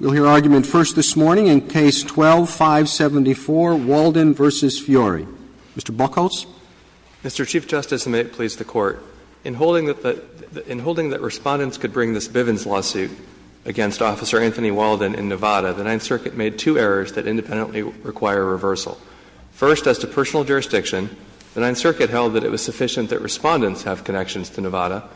We'll hear argument first this morning in Case 12-574, Walden v. Fiore. Mr. Buchholz. Mr. Chief Justice, and may it please the Court, in holding that the — in holding that Respondents could bring this Bivens lawsuit against Officer Anthony Walden in Nevada, the Ninth Circuit made two errors that independently require reversal. First, as to personal jurisdiction, the Ninth Circuit held that it was sufficient that Respondents have connections to Nevada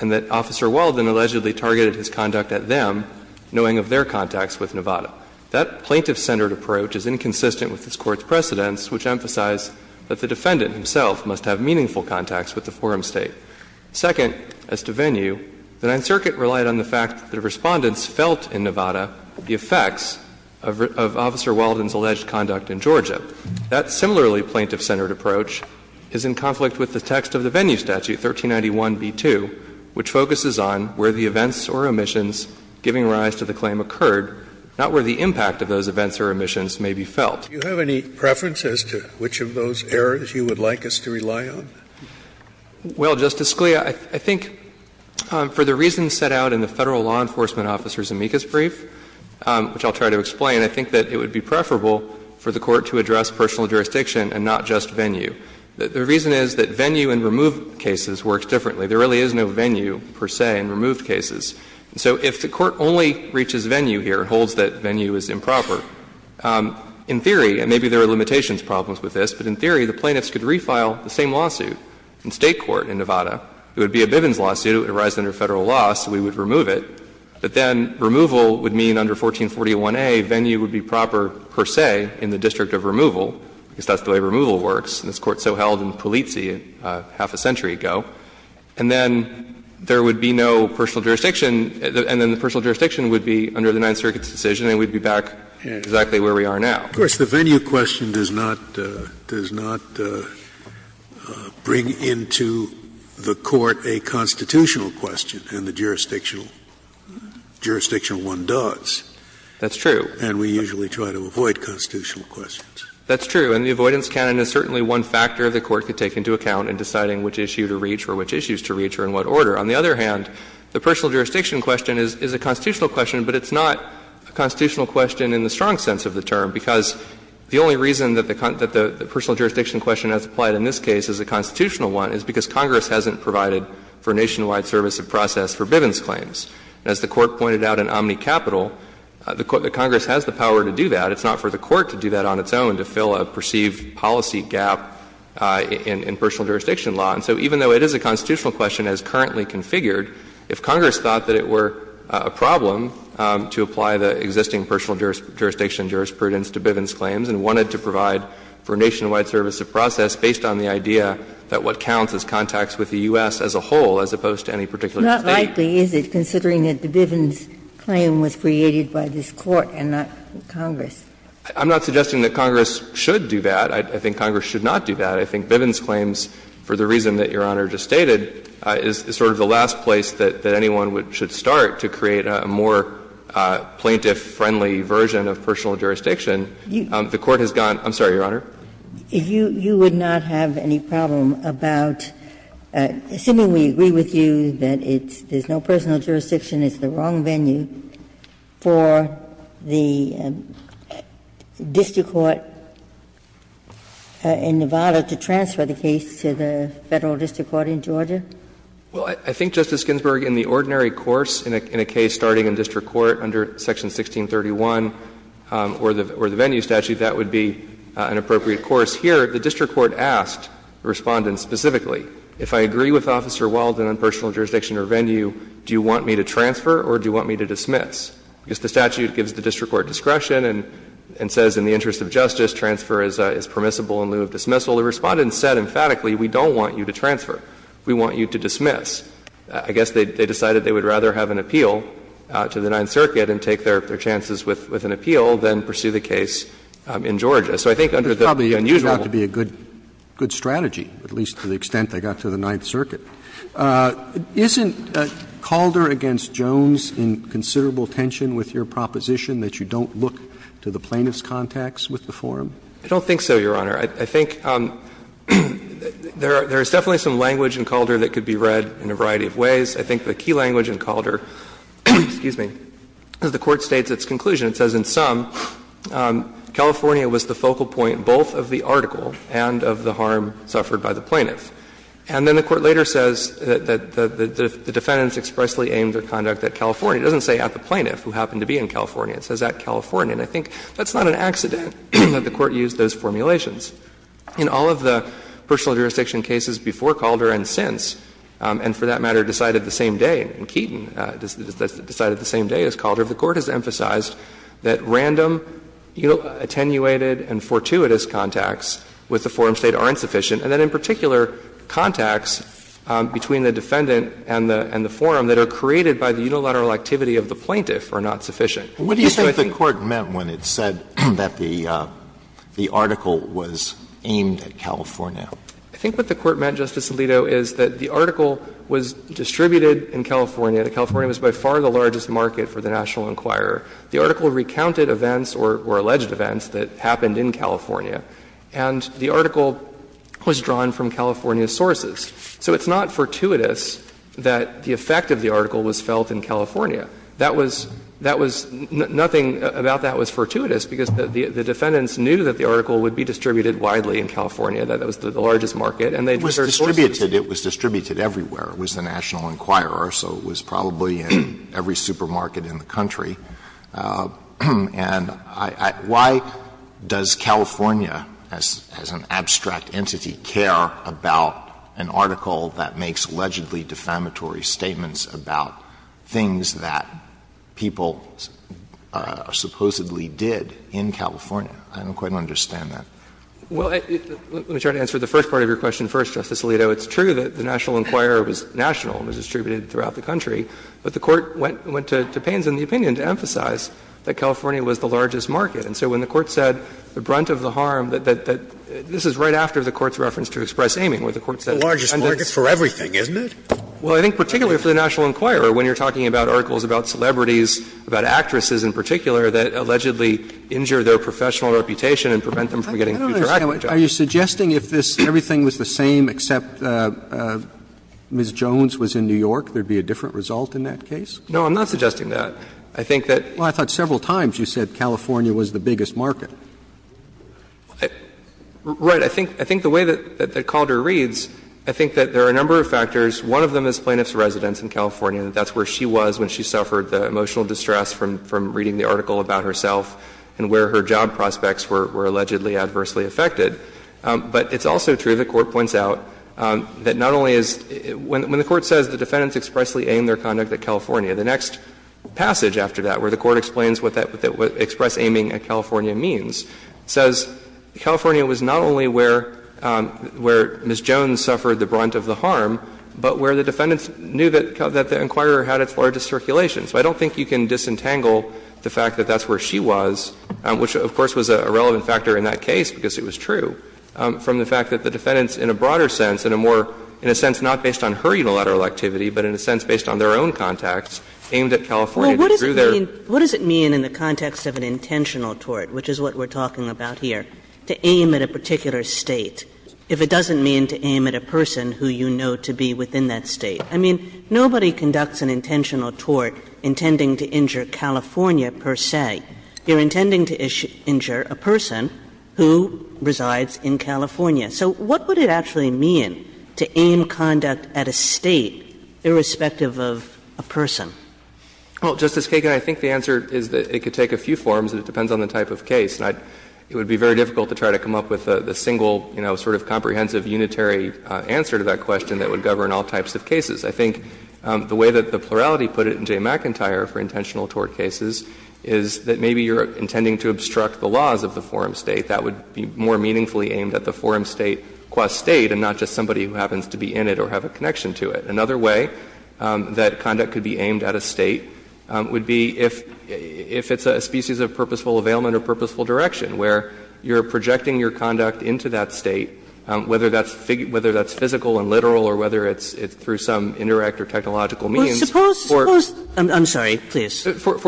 and that Officer Walden allegedly targeted his conduct at them, knowing of their contacts with Nevada. That plaintiff-centered approach is inconsistent with this Court's precedents, which emphasize that the defendant himself must have meaningful contacts with the forum State. Second, as to venue, the Ninth Circuit relied on the fact that Respondents felt in Nevada the effects of Officer Walden's alleged conduct in Georgia. That similarly plaintiff-centered approach is in conflict with the text of the venue statute, 1391b2, which focuses on where the events or omissions giving rise to the claim occurred, not where the impact of those events or omissions may be felt. Do you have any preference as to which of those errors you would like us to rely on? Well, Justice Scalia, I think for the reasons set out in the Federal law enforcement officer's amicus brief, which I'll try to explain, I think that it would be preferable for the Court to address personal jurisdiction and not just venue. The reason is that venue in removed cases works differently. There really is no venue, per se, in removed cases. So if the Court only reaches venue here, holds that venue is improper, in theory and maybe there are limitations problems with this, but in theory the plaintiffs could refile the same lawsuit in State court in Nevada. It would be a Bivens lawsuit. It would arise under Federal law, so we would remove it. But then removal would mean under 1441a venue would be proper, per se, in the district of removal, because that's the way removal works. And this Court so held in Pulizzi half a century ago. And then there would be no personal jurisdiction, and then the personal jurisdiction would be under the Ninth Circuit's decision and we'd be back exactly where we are now. Scalia. Of course, the venue question does not bring into the Court a constitutional question, and the jurisdictional one does. That's true. And we usually try to avoid constitutional questions. That's true. And the avoidance canon is certainly one factor the Court could take into account in deciding which issue to reach or which issues to reach or in what order. On the other hand, the personal jurisdiction question is a constitutional question, but it's not a constitutional question in the strong sense of the term, because the only reason that the personal jurisdiction question has applied in this case is a constitutional one is because Congress hasn't provided for nationwide service of process for Bivens claims. And as the Court pointed out in OmniCapital, the Congress has the power to do that. It's not for the Court to do that on its own, to fill a perceived policy gap in personal jurisdiction law. And so even though it is a constitutional question as currently configured, if Congress thought that it were a problem to apply the existing personal jurisdiction jurisprudence to Bivens claims and wanted to provide for nationwide service of process based on the idea that what counts is contacts with the U.S. as a whole as opposed to any particular State. Ginsburg. Not likely, is it, considering that the Bivens claim was created by this Court and not Congress? I'm not suggesting that Congress should do that. I think Congress should not do that. I think Bivens claims, for the reason that Your Honor just stated, is sort of the last place that anyone should start to create a more plaintiff-friendly version of personal jurisdiction. The Court has gone to the Court. I'm sorry, Your Honor. Ginsburg. You would not have any problem about, assuming we agree with you that it's no personal jurisdiction, it's the wrong venue, for the district court in Nevada to transfer the case to the Federal district court in Georgia? Well, I think, Justice Ginsburg, in the ordinary course in a case starting in district court under Section 1631 or the venue statute, that would be an appropriate course. Here, the district court asked the Respondent specifically, if I agree with Officer Wilden on personal jurisdiction or venue, do you want me to transfer or do you want me to dismiss? Because the statute gives the district court discretion and says in the interest of justice, transfer is permissible in lieu of dismissal. The Respondent said emphatically, we don't want you to transfer. We want you to dismiss. I guess they decided they would rather have an appeal to the Ninth Circuit and take their chances with an appeal than pursue the case in Georgia. So I think under the unusual. It's probably turned out to be a good strategy, at least to the extent they got to the Ninth Circuit. Isn't Calder v. Jones in considerable tension with your proposition that you don't look to the plaintiff's contacts with the forum? I don't think so, Your Honor. I think there is definitely some language in Calder that could be read in a variety of ways. I think the key language in Calder, excuse me, is the Court states its conclusion. It says in sum, California was the focal point both of the article and of the harm suffered by the plaintiff. And then the Court later says that the defendants expressly aimed their conduct at California. It doesn't say at the plaintiff, who happened to be in California. It says at California. And I think that's not an accident that the Court used those formulations. In all of the personal jurisdiction cases before Calder and since, and for that matter decided the same day, and Keaton decided the same day as Calder, the Court has emphasized that random, attenuated and fortuitous contacts with the forum state aren't sufficient, and that in particular, contacts between the defendant and the forum that are created by the unilateral activity of the plaintiff are not sufficient. So the Court says that the plaintiff's intent was to create a forum that was aimed at California. I think what the Court meant, Justice Alito, is that the article was distributed in California. California was by far the largest market for the National Enquirer. The article recounted events or alleged events that happened in California, and the article was drawn from California's sources. So it's not fortuitous that the effect of the article was felt in California. That was nothing about that was fortuitous, because the defendants knew that the article would be distributed widely in California, that it was the largest market, and they drew their sources. Alito, it was distributed everywhere. It was the National Enquirer, so it was probably in every supermarket in the country. And why does California, as an abstract entity, care about an article that makes allegedly defamatory statements about things that are not true? Why does California care about an article that people supposedly did in California? I don't quite understand that. Well, let me try to answer the first part of your question first, Justice Alito. It's true that the National Enquirer was national and was distributed throughout the country, but the Court went to pains in the opinion to emphasize that California was the largest market. And so when the Court said, the brunt of the harm, that this is right after the Court's reference to express aiming, where the Court said the defendants. It's for everything, isn't it? Well, I think particularly for the National Enquirer, when you're talking about articles about celebrities, about actresses in particular, that allegedly injure their professional reputation and prevent them from getting future actors jobs. I don't understand. Are you suggesting if this, everything was the same except Ms. Jones was in New York, there would be a different result in that case? No, I'm not suggesting that. I think that. Well, I thought several times you said California was the biggest market. Right. But I think the way that Calder reads, I think that there are a number of factors. One of them is plaintiff's residence in California, that that's where she was when she suffered the emotional distress from reading the article about herself and where her job prospects were allegedly adversely affected. But it's also true, the Court points out, that not only is — when the Court says the defendants expressly aimed their conduct at California, the next passage after that, where the Court explains what express aiming at California means, says California was not only where Ms. Jones suffered the brunt of the harm, but where the defendants knew that the Inquirer had its largest circulation. So I don't think you can disentangle the fact that that's where she was, which of course was a relevant factor in that case because it was true, from the fact that the defendants in a broader sense, in a more, in a sense not based on her unilateral activity, but in a sense based on their own context, aimed at California. Well, what does it mean in the context of an intentional tort, which is what we're talking about here, to aim at a particular State, if it doesn't mean to aim at a person who you know to be within that State? I mean, nobody conducts an intentional tort intending to injure California per se. You're intending to injure a person who resides in California. So what would it actually mean to aim conduct at a State irrespective of a person? Well, Justice Kagan, I think the answer is that it could take a few forms, and it depends on the type of case. And it would be very difficult to try to come up with a single, you know, sort of comprehensive unitary answer to that question that would govern all types of cases. I think the way that the plurality put it in Jay McIntyre for intentional tort cases is that maybe you're intending to obstruct the laws of the forum State. That would be more meaningfully aimed at the forum State qua State and not just somebody who happens to be in it or have a connection to it. Another way that conduct could be aimed at a State would be if it's a species of purposeful availment or purposeful direction, where you're projecting your conduct into that State, whether that's physical and literal or whether it's through some indirect or technological means, for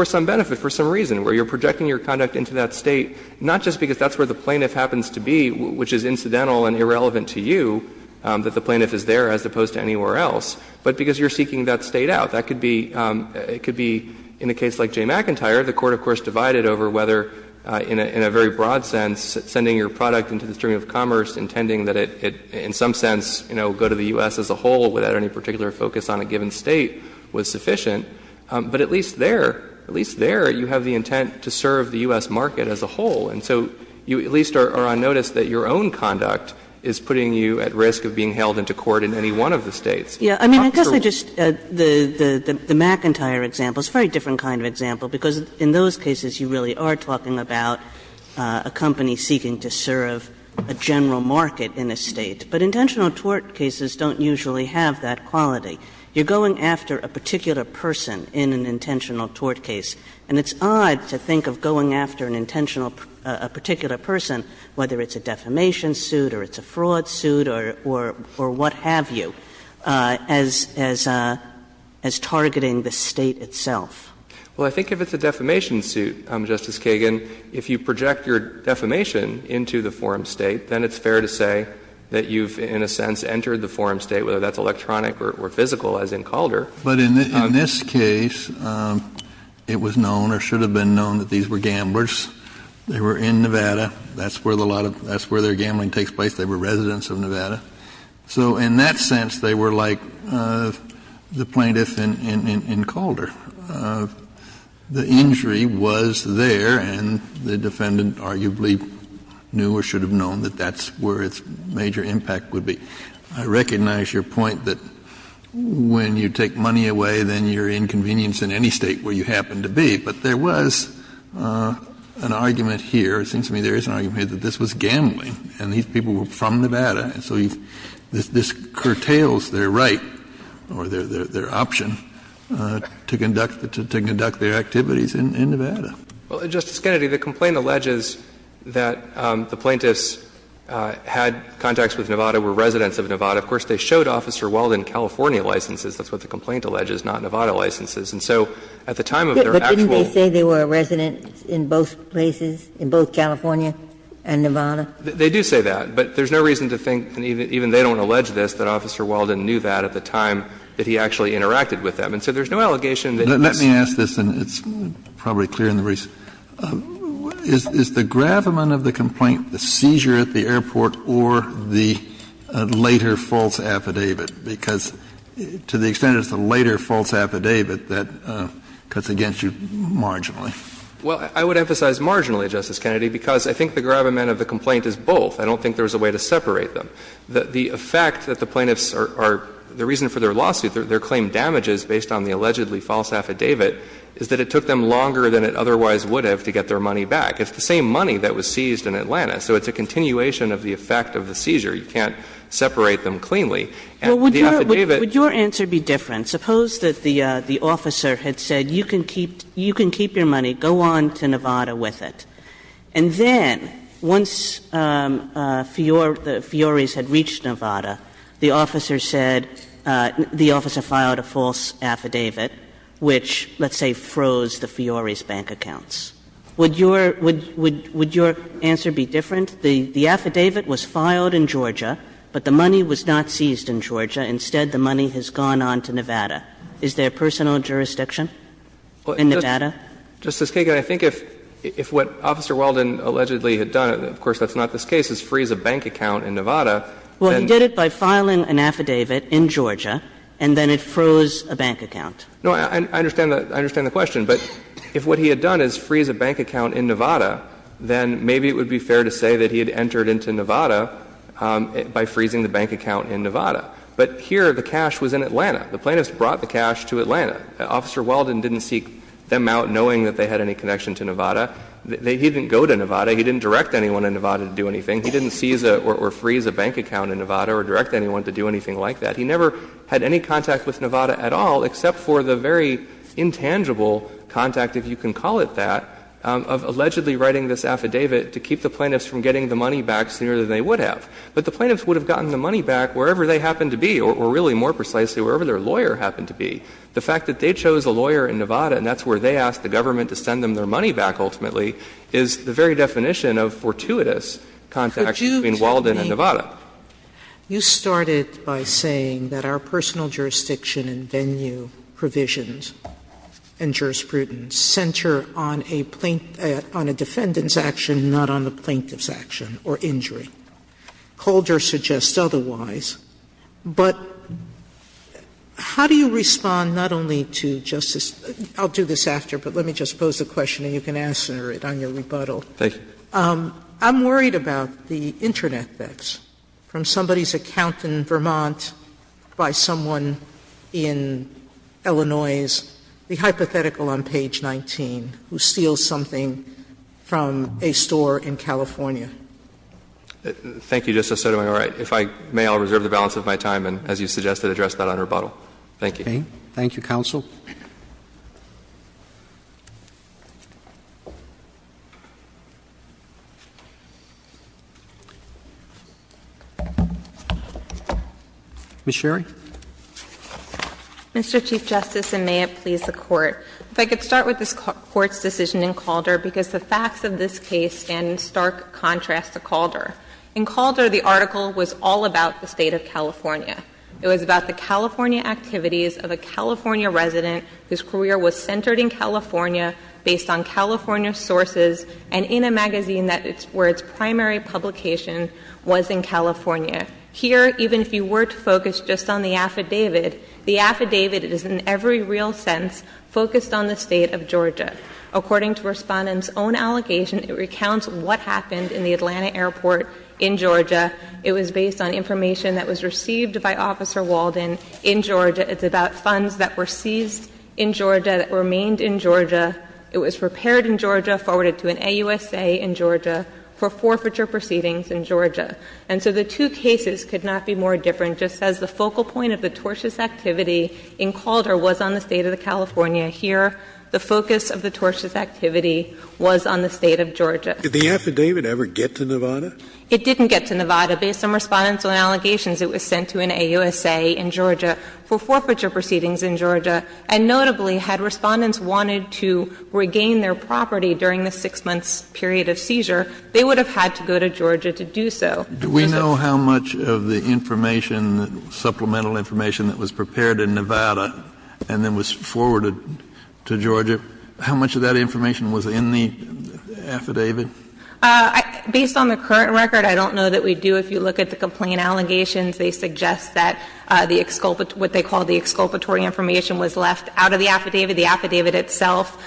some benefit, for some reason, where you're projecting your conduct into that State, not just because that's where the plaintiff happens to be, which is incidental and irrelevant to you, that the plaintiff is there as opposed to anywhere else, but because you're seeking that State out. That could be — it could be, in a case like Jay McIntyre, the Court, of course, divided over whether, in a very broad sense, sending your product into the stream of commerce, intending that it, in some sense, you know, go to the U.S. as a whole without any particular focus on a given State was sufficient, but at least there, at least there, you have the intent to serve the U.S. market as a whole. And so you at least are on notice that your own conduct is putting you at risk of being held into court in any one of the States. Kagan, I mean, I guess I just — the McIntyre example is a very different kind of example, because in those cases you really are talking about a company seeking to serve a general market in a State. But intentional tort cases don't usually have that quality. You're going after a particular person in an intentional tort case, and it's odd to think of going after an intentional — a particular person, whether it's a defamation suit or it's a fraud suit or what have you. And so I think that's a very different kind of thing as — as targeting the State itself. Well, I think if it's a defamation suit, Justice Kagan, if you project your defamation into the forum State, then it's fair to say that you've, in a sense, entered the forum State, whether that's electronic or physical, as in Calder. But in this case, it was known or should have been known that these were gamblers. They were in Nevada. That's where a lot of — that's where their gambling takes place. They were residents of Nevada. So in that sense, they were like the plaintiff in Calder. The injury was there, and the defendant arguably knew or should have known that that's where its major impact would be. I recognize your point that when you take money away, then you're inconvenienced in any State where you happen to be. But there was an argument here, or it seems to me there is an argument here, that this was gambling. And these people were from Nevada, and so this curtails their right or their option to conduct their activities in Nevada. Well, Justice Kennedy, the complaint alleges that the plaintiffs had contacts with Nevada, were residents of Nevada. Of course, they showed Officer Weldon California licenses. That's what the complaint alleges, not Nevada licenses. And so at the time of their actual — But didn't they say they were residents in both places, in both California and Nevada? They do say that. But there's no reason to think, and even they don't allege this, that Officer Weldon knew that at the time that he actually interacted with them. And so there's no allegation that he's — Let me ask this, and it's probably clear in the reason. Is the gravamen of the complaint the seizure at the airport or the later false affidavit? Because to the extent it's the later false affidavit, that cuts against you marginally. Well, I would emphasize marginally, Justice Kennedy, because I think the gravamen of the complaint is both. I don't think there's a way to separate them. The effect that the plaintiffs are — the reason for their lawsuit, their claim damages based on the allegedly false affidavit, is that it took them longer than it otherwise would have to get their money back. It's the same money that was seized in Atlanta. So it's a continuation of the effect of the seizure. You can't separate them cleanly. And the affidavit — Would your answer be different? Suppose that the officer had said, you can keep — you can keep your money. Go on to Nevada with it. And then, once Fiori's had reached Nevada, the officer said — the officer filed a false affidavit, which, let's say, froze the Fiori's bank accounts. Would your — would your answer be different? The affidavit was filed in Georgia, but the money was not seized in Georgia. Instead, the money has gone on to Nevada. Is there personal jurisdiction in Nevada? Justice Kagan, I think if — if what Officer Weldon allegedly had done — of course, that's not this case — is freeze a bank account in Nevada, then — Well, he did it by filing an affidavit in Georgia, and then it froze a bank account. No, I understand the — I understand the question. But if what he had done is freeze a bank account in Nevada, then maybe it would be fair to say that he had entered into Nevada by freezing the bank account in Nevada. But here, the cash was in Atlanta. The plaintiffs brought the cash to Atlanta. Officer Weldon didn't seek them out knowing that they had any connection to Nevada. He didn't go to Nevada. He didn't direct anyone in Nevada to do anything. He didn't seize or freeze a bank account in Nevada or direct anyone to do anything like that. He never had any contact with Nevada at all, except for the very intangible contact, if you can call it that, of allegedly writing this affidavit to keep the plaintiffs from getting the money back sooner than they would have. But the plaintiffs would have gotten the money back wherever they happened to be, or really, more precisely, wherever their lawyer happened to be. The fact that they chose a lawyer in Nevada and that's where they asked the government to send them their money back ultimately is the very definition of fortuitous contact between Walden and Nevada. Sotomayor, you started by saying that our personal jurisdiction and venue provisions and jurisprudence center on a plaintiff's action, not on the plaintiff's action or injury. Calder suggests otherwise. But how do you respond not only to, Justice — I'll do this after, but let me just pose the question and you can answer it on your rebuttal. I'm worried about the Internet thefts from somebody's account in Vermont by someone in Illinois's, the hypothetical on page 19, who steals something from a store in California. Thank you, Justice Sotomayor. If I may, I'll reserve the balance of my time and, as you suggested, address that on rebuttal. Thank you. Roberts. Thank you, counsel. Ms. Sherry. Mr. Chief Justice, and may it please the Court. If I could start with this Court's decision in Calder, because the facts of this case stand in stark contrast to Calder. In Calder, the article was all about the State of California. It was about the California activities of a California resident whose career was centered in California, based on California sources, and in a magazine that it's — where its primary publication was in California. Here, even if you were to focus just on the affidavit, the affidavit is in every real sense focused on the State of Georgia. According to Respondent's own allegation, it recounts what happened in the Atlanta airport in Georgia. It was based on information that was received by Officer Walden in Georgia. It's about funds that were seized in Georgia, that remained in Georgia. It was repaired in Georgia, forwarded to an AUSA in Georgia for forfeiture proceedings in Georgia. And so the two cases could not be more different. Just as the focal point of the tortious activity in Calder was on the State of California, here the focus of the tortious activity was on the State of Georgia. Scalia. Did the affidavit ever get to Nevada? It didn't get to Nevada. Based on Respondent's own allegations, it was sent to an AUSA in Georgia for forfeiture proceedings in Georgia. And notably, had Respondents wanted to regain their property during the 6-month period of seizure, they would have had to go to Georgia to do so. Do we know how much of the information, the supplemental information that was prepared in Nevada and then was forwarded to Georgia, how much of that information was in the affidavit? Based on the current record, I don't know that we do. If you look at the complaint allegations, they suggest that the exculpatory – what they call the exculpatory information was left out of the affidavit. The affidavit itself,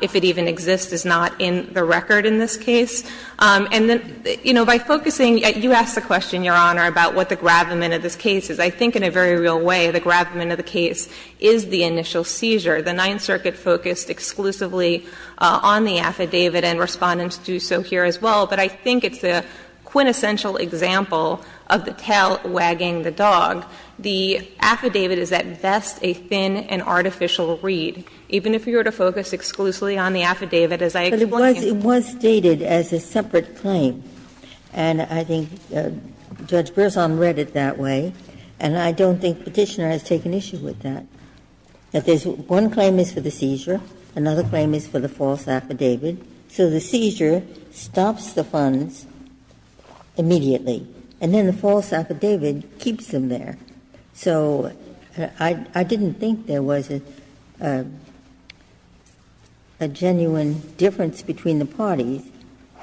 if it even exists, is not in the record in this case. And then, you know, by focusing – you asked the question, Your Honor, about what the gravamen of this case is. I think in a very real way, the gravamen of the case is the initial seizure. The Ninth Circuit focused exclusively on the affidavit and Respondents do so here as well, but I think it's a quintessential example of the tail wagging the dog. The affidavit is at best a thin and artificial read. Even if you were to focus exclusively on the affidavit, as I explained in the case of the 9th Circuit. Ginsburg, it was stated as a separate claim, and I think Judge Berzon read it that way, and I don't think Petitioner has taken issue with that. That there's – one claim is for the seizure, another claim is for the false affidavit. So the seizure stops the funds immediately, and then the false affidavit keeps them there. So I didn't think there was a genuine difference between the parties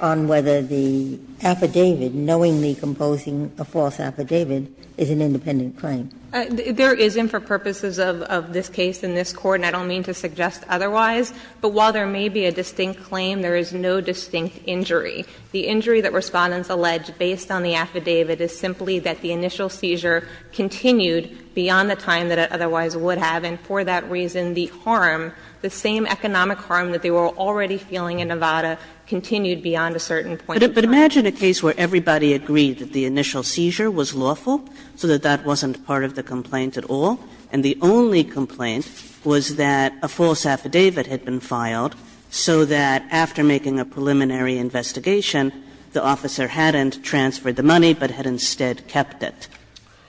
on whether the affidavit, knowingly composing a false affidavit, is an independent claim. There isn't for purposes of this case in this Court, and I don't mean to suggest otherwise. But while there may be a distinct claim, there is no distinct injury. The injury that Respondents allege based on the affidavit is simply that the initial seizure continued beyond the time that it otherwise would have, and for that reason the harm, the same economic harm that they were already feeling in Nevada, continued beyond a certain point in time. Kagan. But imagine a case where everybody agreed that the initial seizure was lawful, so that that wasn't part of the complaint at all, and the only complaint was that a false affidavit had been filed, so that after making a preliminary investigation, the officer hadn't transferred the money, but had instead kept it.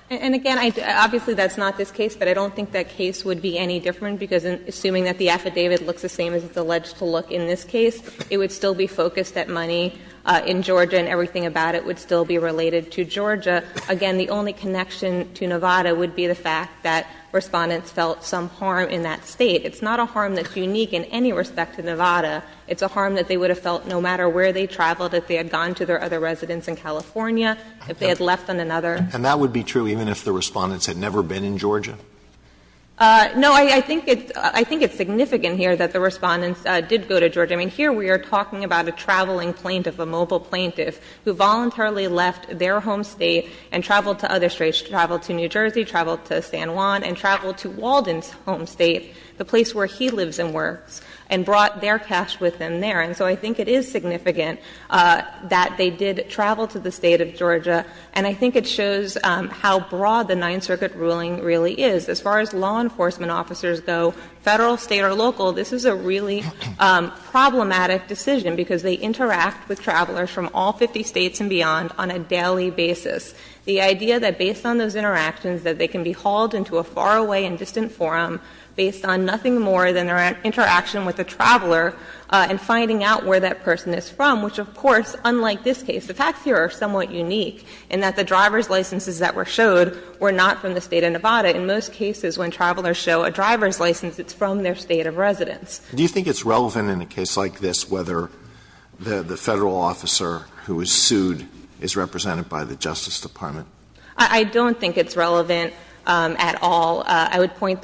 And, again, obviously that's not this case, but I don't think that case would be any different, because assuming that the affidavit looks the same as it's alleged to look in this case, it would still be focused at money in Georgia and everything about it would still be related to Georgia. Again, the only connection to Nevada would be the fact that Respondents felt some harm in that State. It's not a harm that's unique in any respect to Nevada. It's a harm that they would have felt no matter where they traveled, if they had gone to their other residence in California, if they had left on another. And that would be true even if the Respondents had never been in Georgia? No, I think it's significant here that the Respondents did go to Georgia. I mean, here we are talking about a traveling plaintiff, a mobile plaintiff, who voluntarily left their home State and traveled to other States, traveled to New Jersey, traveled to San Juan, and traveled to Walden's home State, the place where he lives and works, and brought their cash with them there. And so I think it is significant that they did travel to the State of Georgia, and I think it shows how broad the Ninth Circuit ruling really is. As far as law enforcement officers go, Federal, State, or local, this is a really problematic decision, because they interact with travelers from all 50 States and beyond on a daily basis. The idea that based on those interactions that they can be hauled into a faraway and distant forum based on nothing more than their interaction with a traveler and finding out where that person is from, which of course, unlike this case, the driver's licenses that were showed were not from the State of Nevada. In most cases, when travelers show a driver's license, it's from their State of residence. Alito, do you think it's relevant in a case like this whether the Federal officer who was sued is represented by the Justice Department? I don't think it's relevant at all. I would point,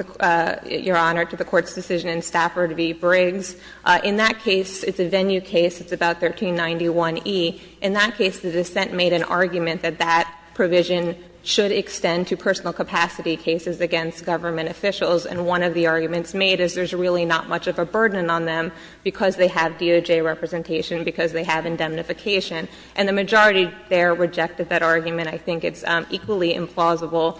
Your Honor, to the Court's decision in Stafford v. Briggs. In that case, it's a venue case. It's about 1391e. In that case, the dissent made an argument that that provision should extend to personal capacity cases against government officials. And one of the arguments made is there's really not much of a burden on them because they have DOJ representation, because they have indemnification. And the majority there rejected that argument. I think it's equally implausible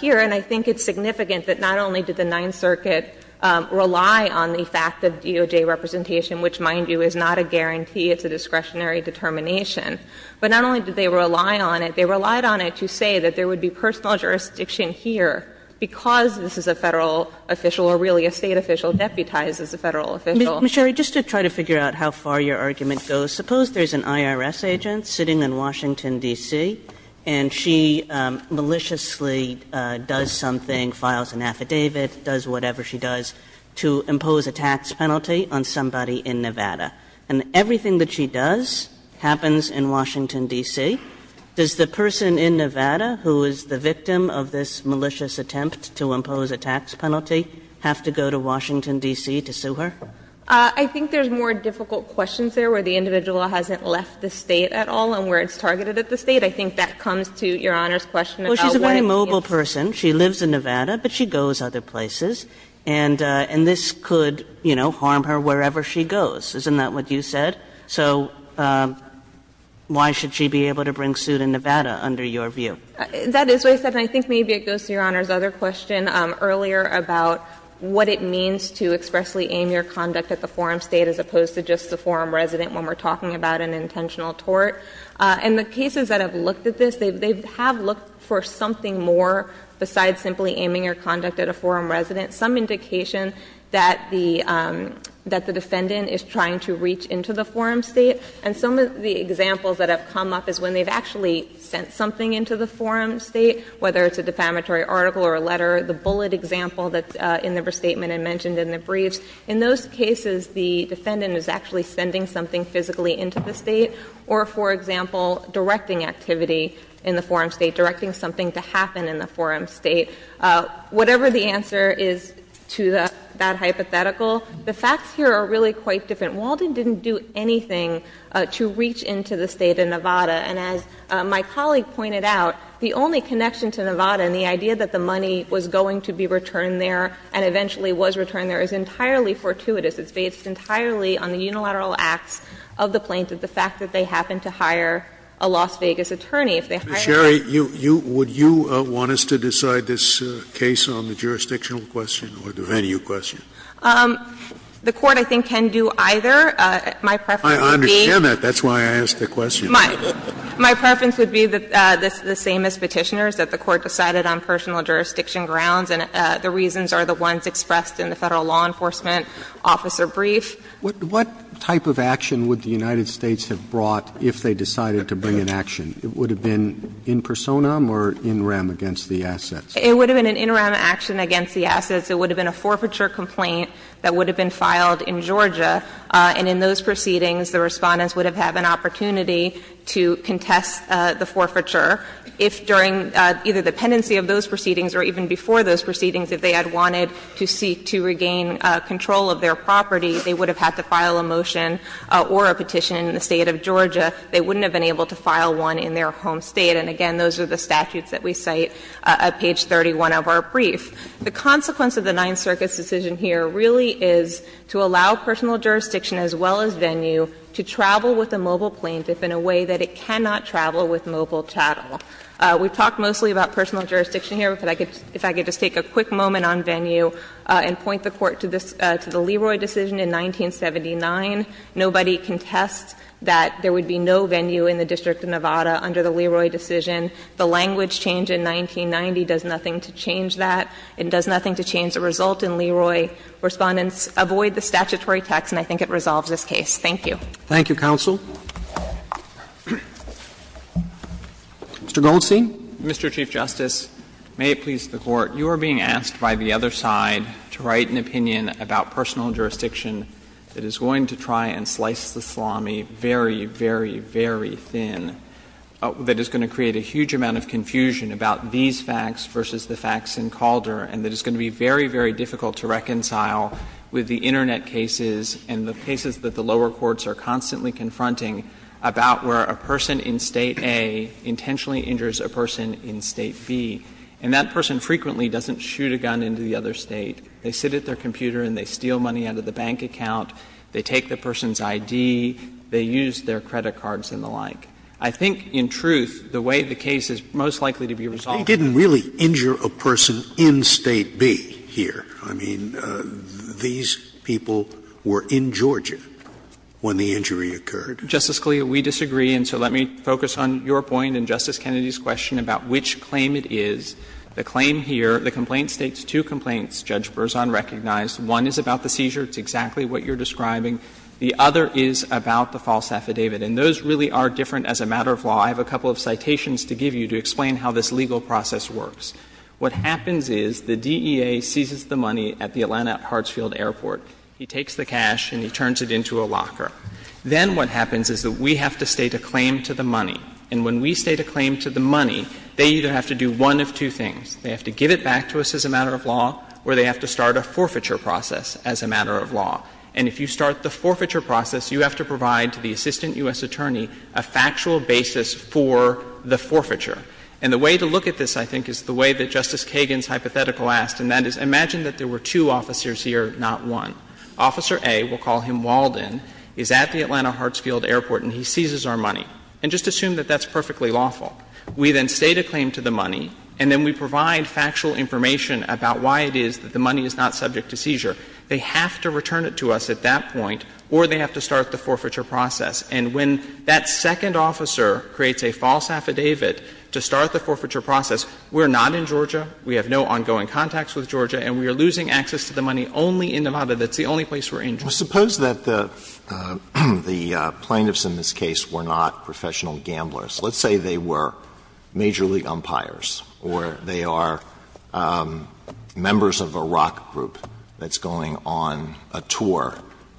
here. And I think it's significant that not only did the Ninth Circuit rely on the fact that DOJ representation, which, mind you, is not a guarantee, it's a discretionary determination, but not only did they rely on it, they relied on it to say that there would be personal jurisdiction here because this is a Federal official or really a State official deputized as a Federal official. Ms. Sherry, just to try to figure out how far your argument goes, suppose there's an IRS agent sitting in Washington, D.C., and she maliciously does something, files an affidavit, does whatever she does, to impose a tax penalty on somebody in Nevada. And everything that she does happens in Washington, D.C. Does the person in Nevada who is the victim of this malicious attempt to impose a tax penalty have to go to Washington, D.C. to sue her? I think there's more difficult questions there where the individual hasn't left the State at all and where it's targeted at the State. I think that comes to Your Honor's question about what it means to sue. Well, she's a very mobile person. She lives in Nevada, but she goes other places. Isn't that what you said? So why should she be able to bring suit in Nevada, under your view? That is what I said, and I think maybe it goes to Your Honor's other question earlier about what it means to expressly aim your conduct at the forum State as opposed to just the forum resident when we're talking about an intentional tort. And the cases that have looked at this, they have looked for something more besides simply aiming your conduct at a forum resident, some indication that the defendant is trying to reach into the forum State. And some of the examples that have come up is when they've actually sent something into the forum State, whether it's a defamatory article or a letter, the bullet example that's in the restatement and mentioned in the briefs, in those cases, the defendant is actually sending something physically into the State or, for example, directing activity in the forum State, directing something to happen in the forum State. Whatever the answer is to that hypothetical, the facts here are really quite different. Walden didn't do anything to reach into the State of Nevada. And as my colleague pointed out, the only connection to Nevada and the idea that the money was going to be returned there and eventually was returned there is entirely fortuitous. It's based entirely on the unilateral acts of the plaintiff, the fact that they happened to hire a Las Vegas attorney. Scalia Ms. Sherry, would you want us to decide this case on the jurisdictional question or the venue question? Sherry The Court I think can do either. My preference would be the same as Petitioner's, that the Court decided on personal jurisdiction grounds and the reasons are the ones expressed in the Federal Law Enforcement Officer Brief. Roberts What type of action would the United States have brought if they decided to bring an action? It would have been in personam or in rem against the assets? Sherry It would have been an in rem action against the assets. It would have been a forfeiture complaint that would have been filed in Georgia. And in those proceedings, the Respondents would have had an opportunity to contest the forfeiture. If during either the pendency of those proceedings or even before those proceedings, if they had wanted to seek to regain control of their property, they would have had to file a motion or a petition in the State of Georgia. They wouldn't have been able to file one in their home State. And again, those are the statutes that we cite at page 31 of our brief. The consequence of the Ninth Circuit's decision here really is to allow personal jurisdiction as well as venue to travel with a mobile plaintiff in a way that it cannot travel with mobile chattel. We've talked mostly about personal jurisdiction here. If I could just take a quick moment on venue and point the Court to this, to the Leroy decision in 1979, nobody contests that there would be no venue in the District of Nevada under the Leroy decision. The language change in 1990 does nothing to change that. It does nothing to change the result. And Leroy Respondents avoid the statutory text, and I think it resolves this case. Thank you. Roberts. Thank you, counsel. Mr. Goldstein. Mr. Chief Justice, may it please the Court. You are being asked by the other side to write an opinion about personal jurisdiction that is going to try and slice the salami very, very, very thin, that is going to create a huge amount of confusion about these facts versus the facts in Calder, and that is going to be very, very difficult to reconcile with the Internet cases and the cases that the lower courts are constantly confronting about where a person in State A intentionally injures a person in State B. And that person frequently doesn't shoot a gun into the other State. They sit at their computer and they steal money out of the bank account. They take the person's ID. They use their credit cards and the like. I think, in truth, the way the case is most likely to be resolved is that the person in State B is the one who is injured. Scalia, we disagree, and so let me focus on your point and Justice Kennedy's The claim here, the complaint states two complaints, Judge Berzon recognized. One is about the seizure. It's exactly what you're describing. The other is about the false affidavit. And those really are different as a matter of law. I have a couple of citations to give you to explain how this legal process works. What happens is the DEA seizes the money at the Atlanta Hartsfield Airport. He takes the cash and he turns it into a locker. Then what happens is that we have to state a claim to the money. And when we state a claim to the money, they either have to do one of two things. They have to give it back to us as a matter of law, or they have to start a forfeiture process as a matter of law. And if you start the forfeiture process, you have to provide to the assistant U.S. attorney a factual basis for the forfeiture. And the way to look at this, I think, is the way that Justice Kagan's hypothetical asked, and that is imagine that there were two officers here, not one. Officer A, we'll call him Walden, is at the Atlanta Hartsfield Airport and he seizes our money. And just assume that that's perfectly lawful. We then state a claim to the money and then we provide factual information about why it is that the money is not subject to seizure. They have to return it to us at that point, or they have to start the forfeiture process. And when that second officer creates a false affidavit to start the forfeiture process, we're not in Georgia, we have no ongoing contacts with Georgia, and we are losing access to the money only in Nevada. That's the only place we're in. Alitoson Suppose that the plaintiffs in this case were not professional gamblers. Let's say they were major league umpires or they are members of a rock group that's going on a tour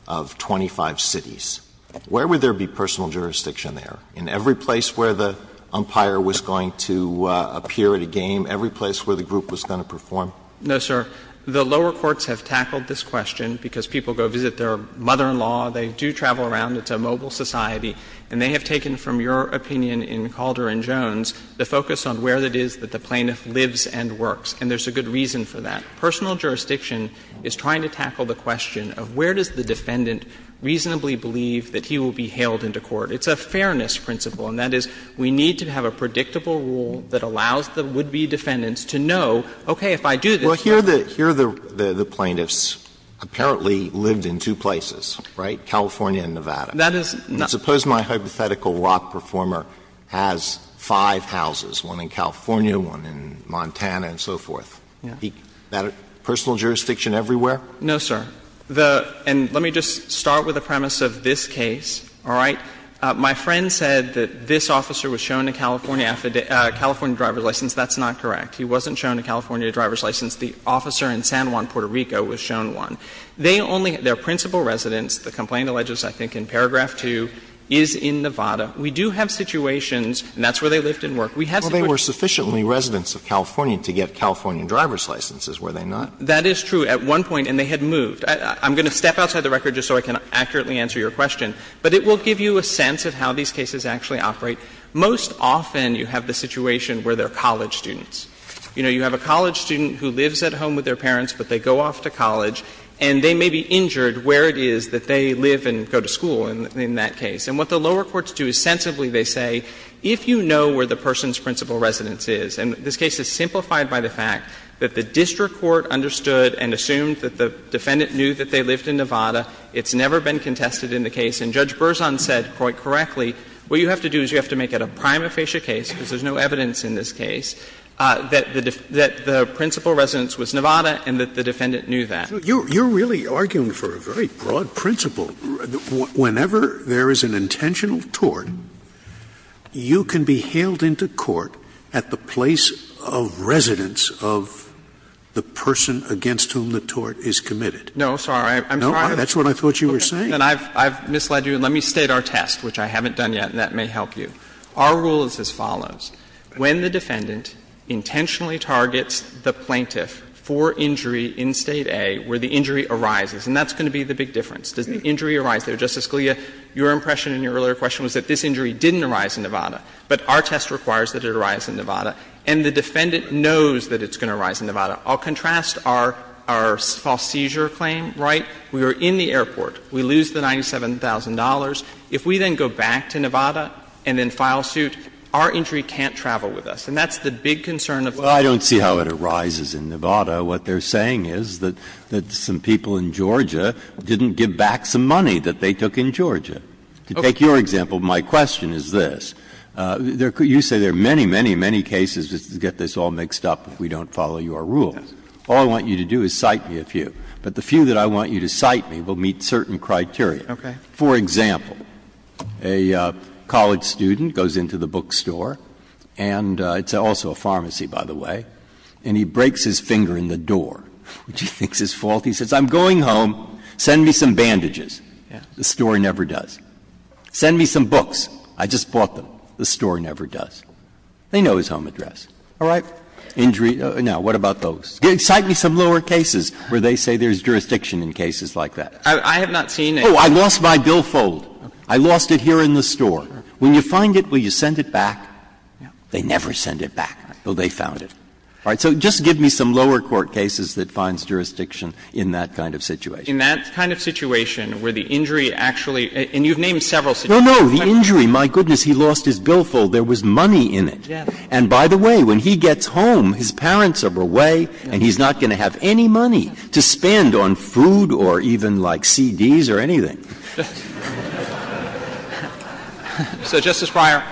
of 25 cities. Where would there be personal jurisdiction there? In every place where the umpire was going to appear at a game, every place where the group was going to perform? No, sir. The lower courts have tackled this question because people go visit their mother-in-law, they do travel around, it's a mobile society, and they have taken from your opinion in Calder and Jones the focus on where it is that the plaintiff lives and works. And there's a good reason for that. Personal jurisdiction is trying to tackle the question of where does the defendant reasonably believe that he will be hailed into court. It's a fairness principle, and that is we need to have a predictable rule that allows the would-be defendants to know, okay, if I do this. Alitoson Well, here the plaintiffs apparently lived in two places, right, California and Nevada. Suppose my hypothetical rock performer has five houses, one in California, one in Montana, and so forth. Is that a personal jurisdiction everywhere? No, sir. And let me just start with the premise of this case, all right. My friend said that this officer was shown a California driver's license. That's not correct. He wasn't shown a California driver's license. The officer in San Juan, Puerto Rico was shown one. They only — their principal residence, the complaint alleges I think in paragraph 2, is in Nevada. We do have situations, and that's where they lived and worked. We have situations. Alitoson Well, they were sufficiently residents of California to get California driver's licenses, were they not? That is true. At one point, and they had moved. I'm going to step outside the record just so I can accurately answer your question. But it will give you a sense of how these cases actually operate. Most often, you have the situation where they're college students. You know, you have a college student who lives at home with their parents, but they go off to college, and they may be injured where it is that they live and go to school in that case. And what the lower courts do is sensibly, they say, if you know where the person's principal residence is, and this case is simplified by the fact that the district court understood and assumed that the defendant knew that they lived in Nevada, it's never been contested in the case, and Judge Berzon said, quite correctly, what you have to do is you have to make it a prima facie case, because there's no evidence in this case, that the principal residence was Nevada and that the defendant knew that. Scalia You're really arguing for a very broad principle. Whenever there is an intentional tort, you can be hailed into court at the place of residence of the person against whom the tort is committed. Alitoson No, sorry. I'm sorry. That's what I thought you were saying. And I've misled you, and let me state our test, which I haven't done yet, and that may help you. Our rule is as follows. When the defendant intentionally targets the plaintiff for injury in State A where the injury arises, and that's going to be the big difference, does the injury arise there? Justice Scalia, your impression in your earlier question was that this injury didn't arise in Nevada, but our test requires that it arise in Nevada, and the defendant knows that it's going to arise in Nevada. I'll contrast our false seizure claim, right? We were in the airport. We lose the $97,000. If we then go back to Nevada and then file suit, our injury can't travel with us. And that's the big concern of the court. Breyer I don't see how it arises in Nevada. What they're saying is that some people in Georgia didn't give back some money that they took in Georgia. To take your example, my question is this. You say there are many, many, many cases to get this all mixed up if we don't follow your rule. All I want you to do is cite me a few. But the few that I want you to cite me will meet certain criteria. For example, a college student goes into the bookstore, and it's also a pharmacy, by the way, and he breaks his finger in the door, which he thinks is faulty. He says, I'm going home. Send me some bandages. The store never does. Send me some books. I just bought them. The store never does. They know his home address. All right. Injury. Now, what about those? Cite me some lower cases where they say there's jurisdiction in cases like that. I have not seen any. Oh, I lost my billfold. I lost it here in the store. When you find it, will you send it back? They never send it back, but they found it. All right. So just give me some lower court cases that finds jurisdiction in that kind of situation. In that kind of situation where the injury actually – and you've named several situations. No, no. The injury, my goodness, he lost his billfold. There was money in it. And by the way, when he gets home, his parents are away, and he's not going to have any money to spend on food or even, like, CDs or anything. So, Justice Breyer,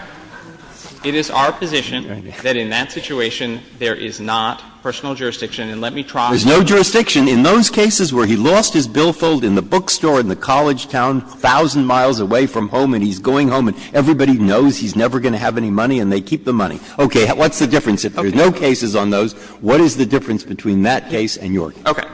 it is our position that in that situation there is not personal jurisdiction, and let me try to – There's no jurisdiction in those cases where he lost his billfold in the bookstore in the college town, a thousand miles away from home, and he's going home, and everybody knows he's never going to have any money, and they keep the money. Okay. What's the difference? If there's no cases on those, what is the difference between that case and your case? Okay.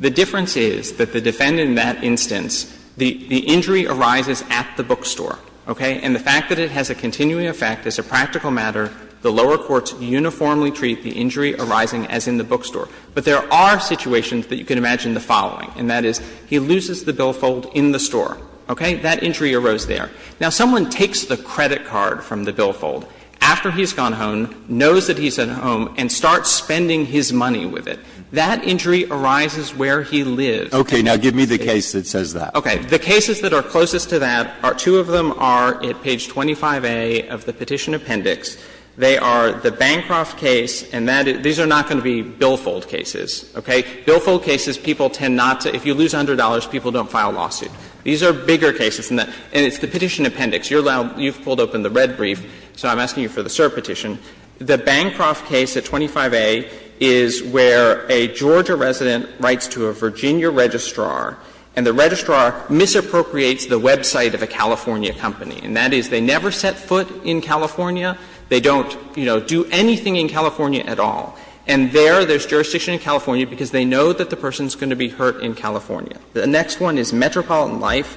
The difference is that the defendant in that instance, the injury arises at the bookstore. Okay? And the fact that it has a continuing effect as a practical matter, the lower courts uniformly treat the injury arising as in the bookstore. But there are situations that you can imagine the following, and that is he loses the billfold in the store. Okay? That injury arose there. Now, someone takes the credit card from the billfold after he's gone home, knows that he's at home, and starts spending his money with it. That injury arises where he lives. Okay. Now, give me the case that says that. Okay. The cases that are closest to that, two of them are at page 25a of the Petition Appendix. They are the Bancroft case and that – these are not going to be billfold cases. Okay? These are bigger cases than that. And it's the Petition Appendix. You're allowed – you've pulled open the red brief, so I'm asking you for the cert petition. The Bancroft case at 25a is where a Georgia resident writes to a Virginia registrar, and the registrar misappropriates the website of a California company. And that is they never set foot in California. They don't, you know, do anything in California at all. And there, there's jurisdiction in California because they know that the person is going to be hurt in California. The next one is Metropolitan Life.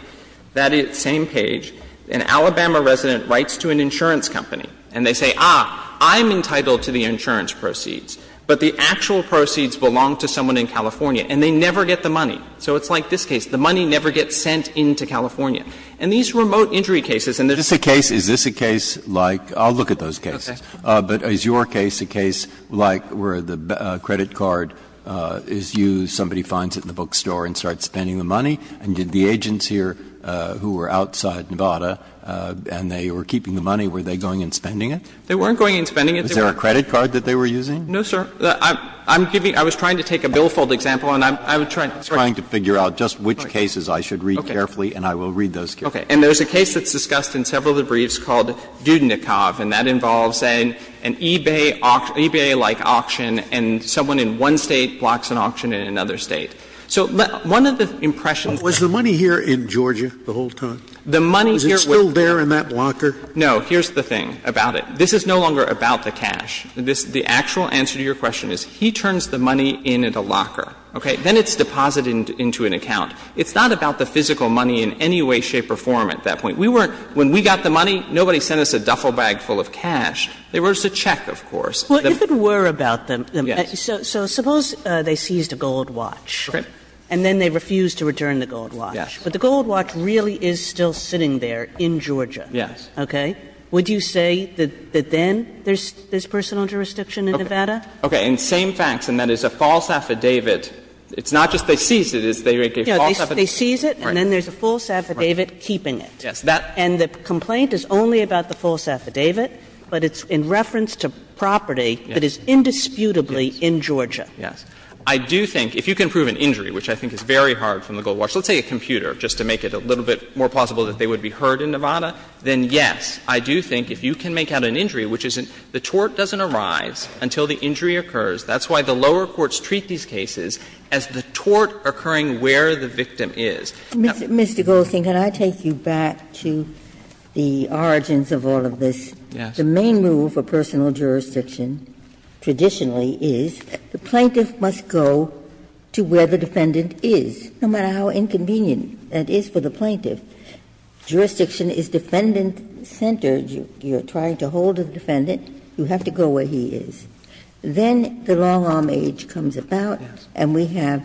That is same page. An Alabama resident writes to an insurance company, and they say, ah, I'm entitled to the insurance proceeds, but the actual proceeds belong to someone in California, and they never get the money. So it's like this case. The money never gets sent into California. And these remote injury cases, and there's a case. Breyer. Is this a case like – I'll look at those cases. But is your case a case like where the credit card is used, somebody finds it in the country, and they're spending the money, and did the agents here who were outside Nevada, and they were keeping the money, were they going and spending it? They weren't going and spending it. Was there a credit card that they were using? No, sir. I'm giving – I was trying to take a billfold example, and I'm trying to figure out just which cases I should read carefully, and I will read those carefully. Okay. And there's a case that's discussed in several of the briefs called Dudnikov, and that involves an eBay – an eBay-like auction, and someone in one State blocks an auction in another State. So let – one of the impressions that – But was the money here in Georgia the whole time? The money here – Was it still there in that locker? No. Here's the thing about it. This is no longer about the cash. This – the actual answer to your question is he turns the money in at a locker. Okay? Then it's deposited into an account. It's not about the physical money in any way, shape or form at that point. We weren't – when we got the money, nobody sent us a duffel bag full of cash. There was a check, of course. Well, if it were about the – Yes. So suppose they seized a gold watch. Okay. And then they refused to return the gold watch. Yes. But the gold watch really is still sitting there in Georgia. Yes. Okay? Would you say that then there's personal jurisdiction in Nevada? Okay. And same facts, and that is a false affidavit. It's not just they seized it, it's they make a false affidavit. They seize it, and then there's a false affidavit keeping it. Yes. And the complaint is only about the false affidavit, but it's in reference to property that is indisputably in Georgia. Yes. I do think, if you can prove an injury, which I think is very hard from the gold watch, let's say a computer, just to make it a little bit more plausible that they would be heard in Nevada, then, yes, I do think if you can make out an injury, which isn't – the tort doesn't arise until the injury occurs. That's why the lower courts treat these cases as the tort occurring where the victim is. Mr. Goldstein, can I take you back to the origins of all of this? Yes. The main rule for personal jurisdiction traditionally is the plaintiff must go to where the defendant is, no matter how inconvenient that is for the plaintiff. Jurisdiction is defendant-centered. You're trying to hold a defendant. You have to go where he is. Then the long-arm age comes about, and we have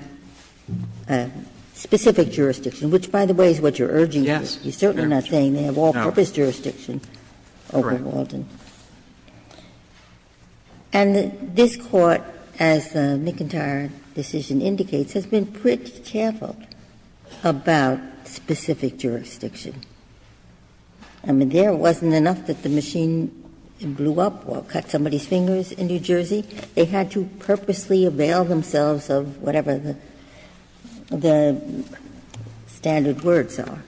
specific jurisdiction. Which, by the way, is what you're urging. Yes. You're certainly not saying they have all-purpose jurisdiction over Walden. Correct. And this Court, as McIntyre's decision indicates, has been pretty careful about specific jurisdiction. I mean, there wasn't enough that the machine blew up or cut somebody's fingers in New Jersey. They had to purposely avail themselves of whatever the standard words are.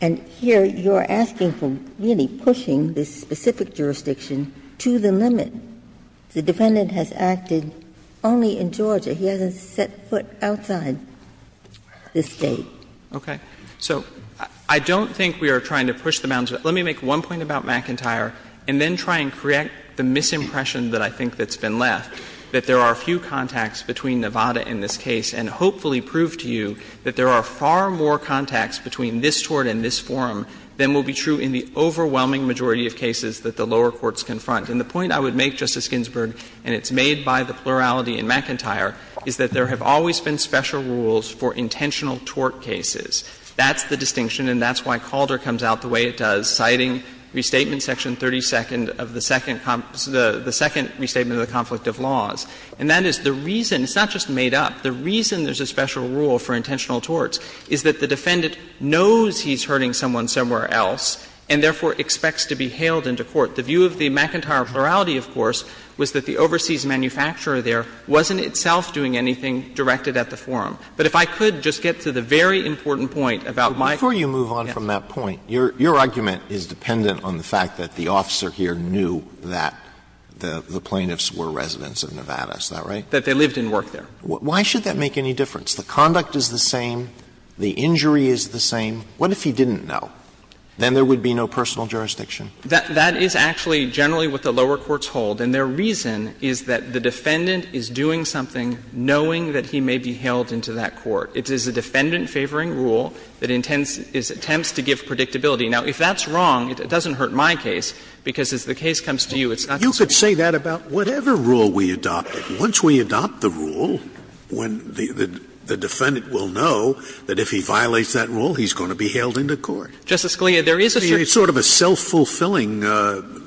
And here you're asking for really pushing this specific jurisdiction to the limit. The defendant has acted only in Georgia. He hasn't set foot outside this State. Okay. So I don't think we are trying to push the bounds. Let me make one point about McIntyre and then try and create the misimpression that I think that's been left, that there are few contacts between Nevada in this case, and hopefully prove to you that there are far more contacts between this tort and this forum than will be true in the overwhelming majority of cases that the lower courts confront. And the point I would make, Justice Ginsburg, and it's made by the plurality in McIntyre, is that there have always been special rules for intentional tort cases. That's the distinction, and that's why Calder comes out the way it does, citing Restatement Section 32nd of the Second Conflict of Laws. And that is the reason, it's not just made up, the reason there's a special rule for intentional torts is that the defendant knows he's hurting someone somewhere else and therefore expects to be hailed into court. The view of the McIntyre plurality, of course, was that the overseas manufacturer there wasn't itself doing anything directed at the forum. But if I could just get to the very important point about my question. Alito, if I could just move on from that point. Your argument is dependent on the fact that the officer here knew that the plaintiffs were residents of Nevada, is that right? That they lived and worked there. Why should that make any difference? The conduct is the same, the injury is the same. What if he didn't know? Then there would be no personal jurisdiction. That is actually generally what the lower courts hold, and their reason is that the defendant is doing something knowing that he may be hailed into that court. It is a defendant-favoring rule that intends to give predictability. Now, if that's wrong, it doesn't hurt my case, because as the case comes to you, it's not going to be wrong. Scalia, you could say that about whatever rule we adopt. Once we adopt the rule, when the defendant will know that if he violates that rule, he's going to be hailed into court. Justice Scalia, there is a circumstance. It's sort of a self-fulfilling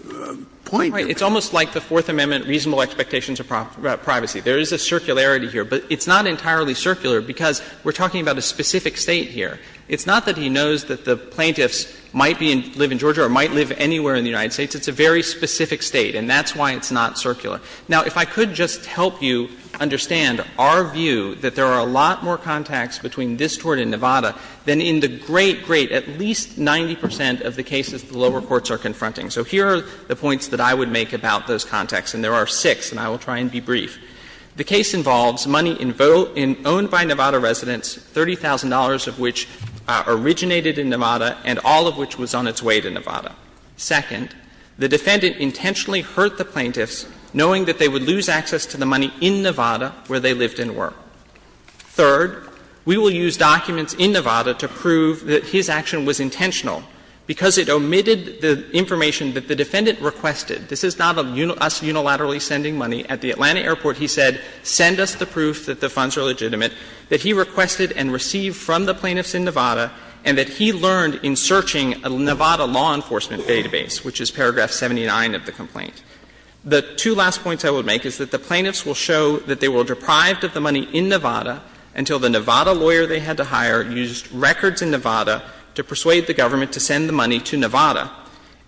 point. It's almost like the Fourth Amendment reasonable expectations of privacy. There is a circularity here, but it's not entirely circular, because we're talking about a specific State here. It's not that he knows that the plaintiffs might live in Georgia or might live anywhere in the United States. It's a very specific State, and that's why it's not circular. Now, if I could just help you understand our view that there are a lot more contacts between this Court and Nevada than in the great, great, at least 90 percent of the cases the lower courts are confronting. So here are the points that I would make about those contacts, and there are six, and I will try and be brief. The case involves money in vote in own by Nevada residents, $30,000 of which originated in Nevada and all of which was on its way to Nevada. Second, the defendant intentionally hurt the plaintiffs, knowing that they would lose access to the money in Nevada where they lived and work. Third, we will use documents in Nevada to prove that his action was intentional because it omitted the information that the defendant requested. This is not us unilaterally sending money. At the Atlanta airport, he said, send us the proof that the funds are legitimate, that he requested and received from the plaintiffs in Nevada, and that he learned in searching a Nevada law enforcement database, which is paragraph 79 of the complaint. The two last points I would make is that the plaintiffs will show that they were deprived of the money in Nevada until the Nevada lawyer they had to hire used records in Nevada to persuade the government to send the money to Nevada.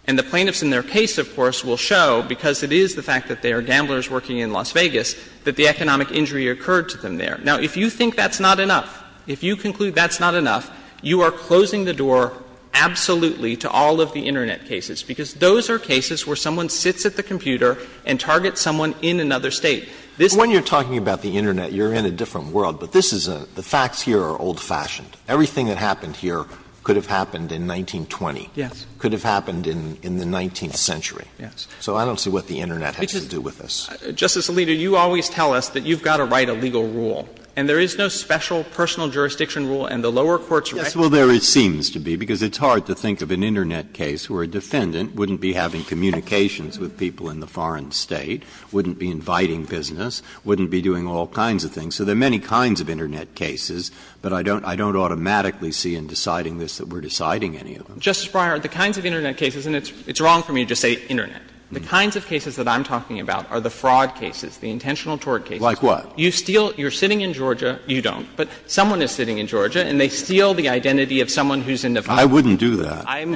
And the plaintiffs in their case, of course, will show, because it is the fact that they are gamblers working in Las Vegas, that the economic injury occurred to them there. Now, if you think that's not enough, if you conclude that's not enough, you are closing the door absolutely to all of the Internet cases, because those are cases where someone sits at the computer and targets someone in another State. This is a different world, but this is a ‑‑ the facts here are old-fashioned. Everything that happened here could have happened in 1920. Yes. Could have happened in the 19th century. Yes. So I don't see what the Internet has to do with this. Justice Alito, you always tell us that you've got to write a legal rule, and there is no special personal jurisdiction rule, and the lower courts recognize that. Yes, well, there seems to be, because it's hard to think of an Internet case where a defendant wouldn't be having communications with people in the foreign State, wouldn't be inviting business, wouldn't be doing all kinds of things. So there are many kinds of Internet cases, but I don't automatically see in deciding this that we are deciding any of them. Justice Breyer, the kinds of Internet cases, and it's wrong for me to just say Internet, the kinds of cases that I'm talking about are the fraud cases, the intentional tort cases. Like what? You steal ‑‑ you're sitting in Georgia, you don't. But someone is sitting in Georgia, and they steal the identity of someone who's in the foreign State. I wouldn't do that. I'm ‑‑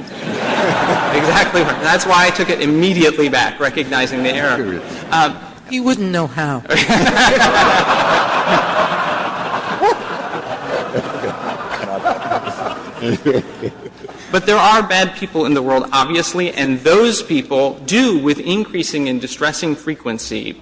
exactly right. That's why I took it immediately back, recognizing the error. He wouldn't know how. But there are bad people in the world, obviously, and those people do, with increasing and distressing frequency,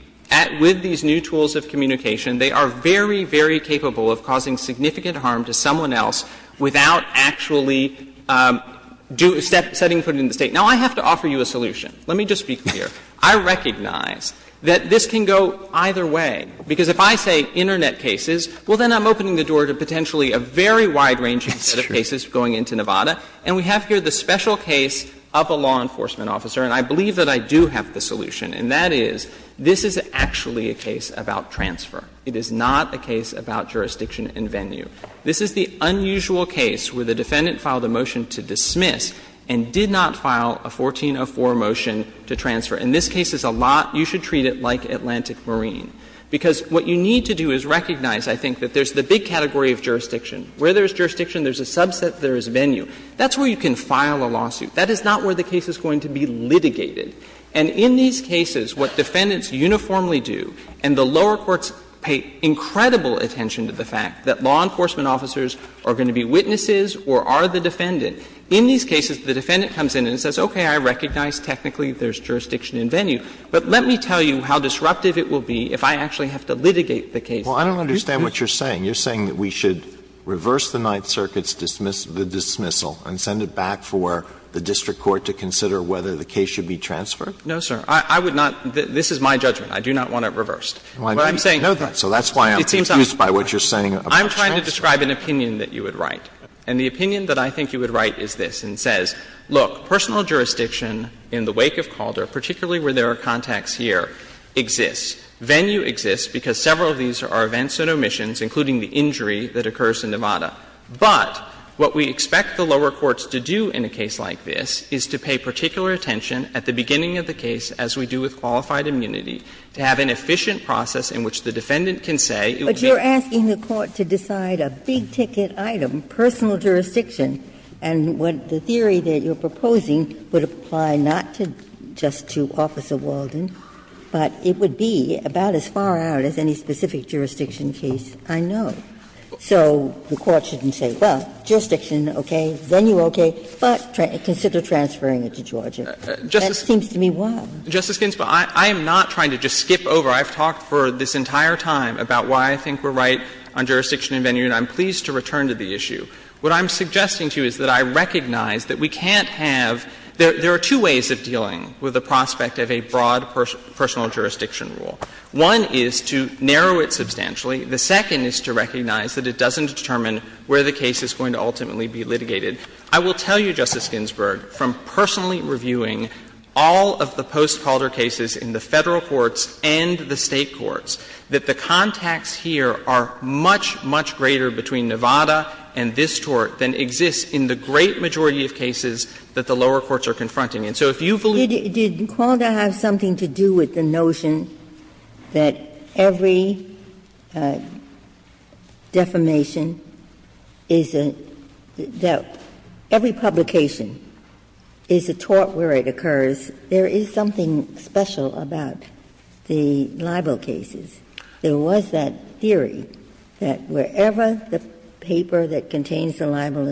with these new tools of communication, they are very, very capable of causing significant harm to someone else without actually setting foot in the State. Now, I have to offer you a solution. Let me just be clear. I recognize that this can go either way. Because if I say Internet cases, well, then I'm opening the door to potentially a very wide range of cases going into Nevada. And we have here the special case of a law enforcement officer. And I believe that I do have the solution. And that is, this is actually a case about transfer. It is not a case about jurisdiction and venue. This is the unusual case where the defendant filed a motion to dismiss and did not file a 1404 motion to transfer. And this case is a lot ‑‑ you should treat it like Atlantic Marine. Because what you need to do is recognize, I think, that there is the big category of jurisdiction. Where there is jurisdiction, there is a subset, there is venue. That's where you can file a lawsuit. That is not where the case is going to be litigated. And in these cases, what defendants uniformly do, and the lower courts pay incredible attention to the fact that law enforcement officers are going to be witnesses or are the defendant. In these cases, the defendant comes in and says, okay, I recognize technically there is jurisdiction and venue. But let me tell you how disruptive it will be if I actually have to litigate the case. Alito. Well, I don't understand what you're saying. You're saying that we should reverse the Ninth Circuit's dismissal and send it back for the district court to consider whether the case should be transferred? No, sir. I would not ‑‑ this is my judgment. I do not want it reversed. But I'm saying ‑‑ I didn't know that. So that's why I'm confused by what you're saying about transfer. I'm trying to describe an opinion that you would write. And the opinion that I think you would write is this and says, look, personal jurisdiction in the wake of Calder, particularly where there are contacts here, exists. Venue exists because several of these are events and omissions, including the injury that occurs in Nevada. But what we expect the lower courts to do in a case like this is to pay particular attention at the beginning of the case, as we do with qualified immunity, to have an efficient process in which the defendant can say it would be ‑‑ But you're asking the court to decide a big‑ticket item, personal jurisdiction. And what the theory that you're proposing would apply not to just to Officer Walden, but it would be about as far out as any specific jurisdiction case I know. So the court shouldn't say, well, jurisdiction, okay, venue, okay, but consider transferring it to Georgia. That seems to me wild. Justice Ginsburg, I am not trying to just skip over. I've talked for this entire time about why I think we're right on jurisdiction and venue, and I'm pleased to return to the issue. What I'm suggesting to you is that I recognize that we can't have ‑‑ there are two ways of dealing with the prospect of a broad personal jurisdiction rule. One is to narrow it substantially. The second is to recognize that it doesn't determine where the case is going to ultimately be litigated. I will tell you, Justice Ginsburg, from personally reviewing all of the post‑calder cases in the Federal courts and the State courts, that the contacts here are much, much greater between Nevada and this tort than exists in the great majority of cases that the lower courts are confronting. And so if you believe ‑‑ Ginsburg. Did Kwanda have something to do with the notion that every defamation is a ‑‑ that every publication is a tort where it occurs. There is something special about the libel cases. There was that theory that wherever the paper that contains the libel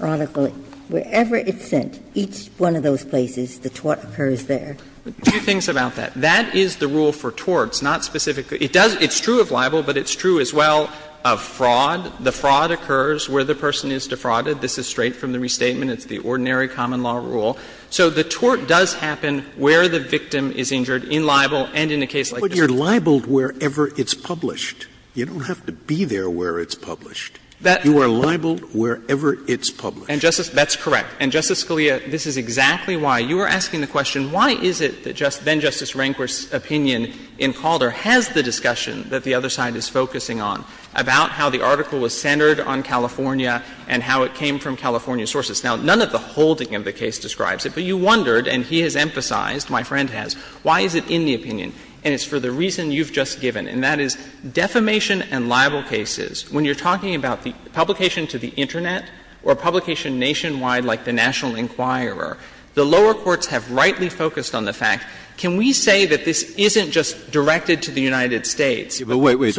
article, wherever it's sent, each one of those places, the tort occurs there. Two things about that. That is the rule for torts, not specifically ‑‑ it does ‑‑ it's true of libel, but it's true as well of fraud. The fraud occurs where the person is defrauded. This is straight from the restatement. It's the ordinary common law rule. So the tort does happen where the victim is injured, in libel and in a case like this. Scalia, you're libeled wherever it's published. You don't have to be there where it's published. You are libeled wherever it's published. And, Justice ‑‑ that's correct. And, Justice Scalia, this is exactly why. You are asking the question, why is it that then‑Justice Rehnquist's opinion in Calder has the discussion that the other side is focusing on about how the article was centered on California and how it came from California sources? Now, none of the holding of the case describes it, but you wondered, and he has emphasized, my friend has, why is it in the opinion? And it's for the reason you've just given, and that is defamation and libel cases. When you're talking about the publication to the Internet or publication nationwide like the National Enquirer, the lower courts have rightly focused on the fact, can we say that this isn't just directed to the United States? Scalia, but wait, wait.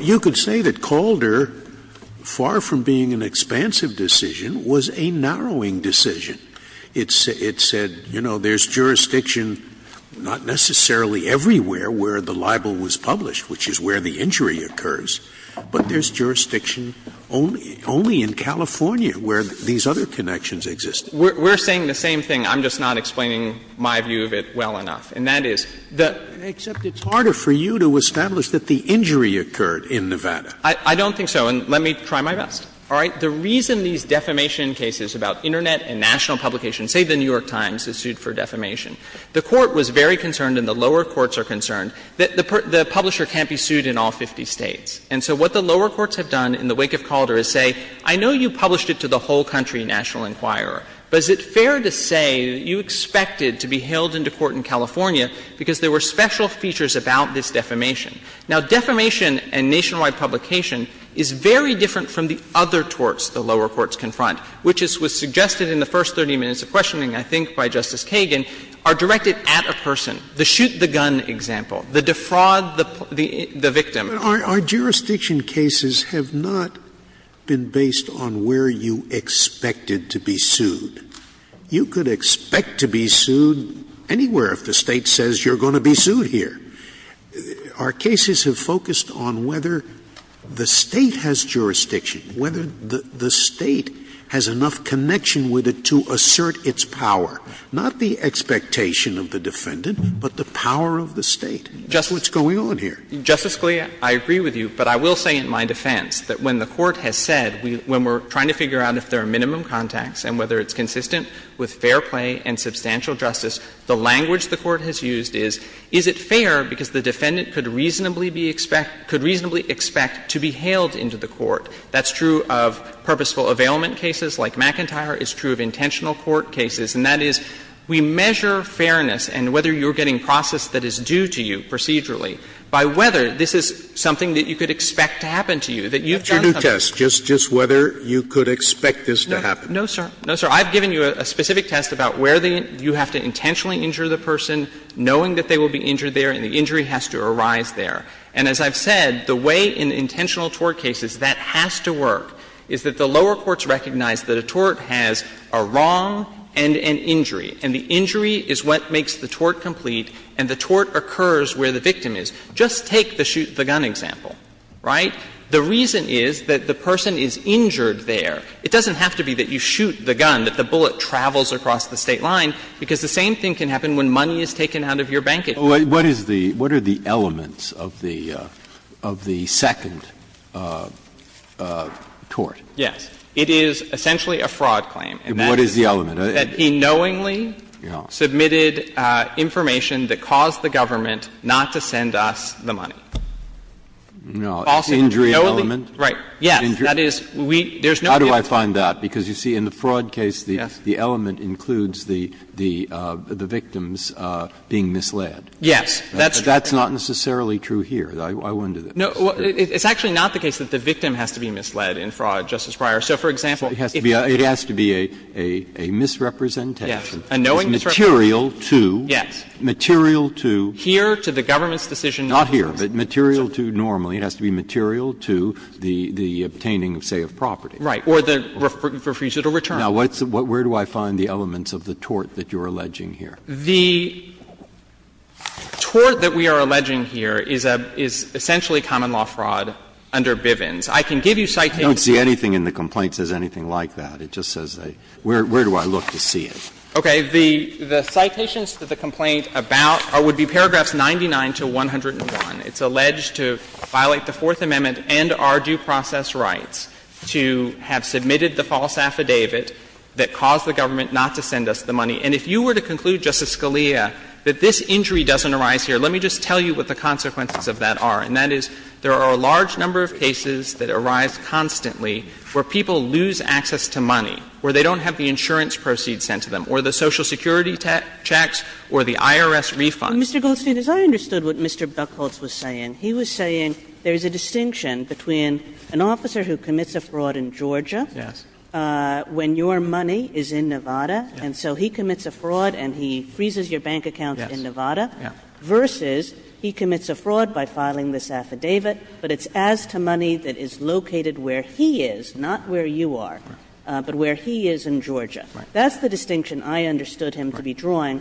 You could say that Calder, far from being an expansive decision, was a narrowing decision. It said, you know, there's jurisdiction not necessarily everywhere where the libel was published, which is where the injury occurs, but there's jurisdiction only in California where these other connections exist. We're saying the same thing. I'm just not explaining my view of it well enough. And that is the — Scalia, except it's harder for you to establish that the injury occurred in Nevada. I don't think so. And let me try my best. All right? The reason these defamation cases about Internet and national publication — say the New York Times is sued for defamation. The Court was very concerned and the lower courts are concerned that the publisher can't be sued in all 50 States. And so what the lower courts have done in the wake of Calder is say, I know you published it to the whole country, National Enquirer, but is it fair to say that you expected to be held into court in California because there were special features about this defamation? Now, defamation and nationwide publication is very different from the other torts the lower courts confront, which was suggested in the first 30 minutes of questioning, I think, by Justice Kagan, are directed at a person. The shoot-the-gun example, the defraud, the victim. Scalia, our jurisdiction cases have not been based on where you expected to be sued. You could expect to be sued anywhere if the State says you're going to be sued here. Our cases have focused on whether the State has jurisdiction, whether the State has enough connection with it to assert its power. Not the expectation of the defendant, but the power of the State. What's going on here? Justice Scalia, I agree with you, but I will say in my defense that when the Court has said, when we're trying to figure out if there are minimum contacts and whether it's consistent with fair play and substantial justice, the language the Court has used is, is it fair because the defendant could reasonably be expect to be hailed into the court. That's true of purposeful availment cases like McIntyre. It's true of intentional court cases. And that is, we measure fairness and whether you're getting process that is due to you procedurally by whether this is something that you could expect to happen to you, that you've done something. Scalia, that's your new test, just whether you could expect this to happen. No, sir. No, sir. I've given you a specific test about where you have to intentionally injure the person knowing that they will be injured there and the injury has to arise there. And as I've said, the way in intentional tort cases that has to work is that the lower courts recognize that a tort has a wrong and an injury, and the injury is what makes the tort complete and the tort occurs where the victim is. Just take the shoot the gun example, right? The reason is that the person is injured there. It doesn't have to be that you shoot the gun, that the bullet travels across the State line, because the same thing can happen when money is taken out of your bank account. What is the – what are the elements of the second tort? Yes. It is essentially a fraud claim. What is the element? That he knowingly submitted information that caused the government not to send us the money. No. Right. Yes. That is, we – there's no evidence. How do I find that? Because, you see, in the fraud case, the element includes the victims being misled. Yes. That's not necessarily true here. I wonder this. No. It's actually not the case that the victim has to be misled in fraud, Justice Breyer. So, for example, if you have to be a misrepresentation. Yes. A knowing misrepresentation. Material to. Yes. Material to. Here to the government's decision. Not here, but material to normally. It has to be material to the obtaining, say, of property. Right. Or the refusal to return. Now, where do I find the elements of the tort that you're alleging here? The tort that we are alleging here is essentially common law fraud under Bivens. I can give you citations. I don't see anything in the complaint that says anything like that. It just says, where do I look to see it? Okay. The citations to the complaint about – would be paragraphs 99 to 101. It's alleged to violate the Fourth Amendment and our due process rights to have submitted the false affidavit that caused the government not to send us the money. And if you were to conclude, Justice Scalia, that this injury doesn't arise here, let me just tell you what the consequences of that are. And that is, there are a large number of cases that arise constantly where people lose access to money, where they don't have the insurance proceeds sent to them, or the Social Security checks, or the IRS refund. Kagan. And Mr. Goldstein, as I understood what Mr. Buchholz was saying, he was saying there's a distinction between an officer who commits a fraud in Georgia when your money is in Nevada, and so he commits a fraud and he freezes your bank account in Nevada, versus he commits a fraud by filing this affidavit, but it's as to money that is located where he is, not where you are, but where he is in Georgia. That's the distinction I understood him to be drawing.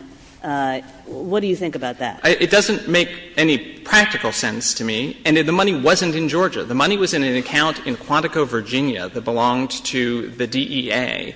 What do you think about that? It doesn't make any practical sense to me, and the money wasn't in Georgia. The money was in an account in Quantico, Virginia that belonged to the DEA.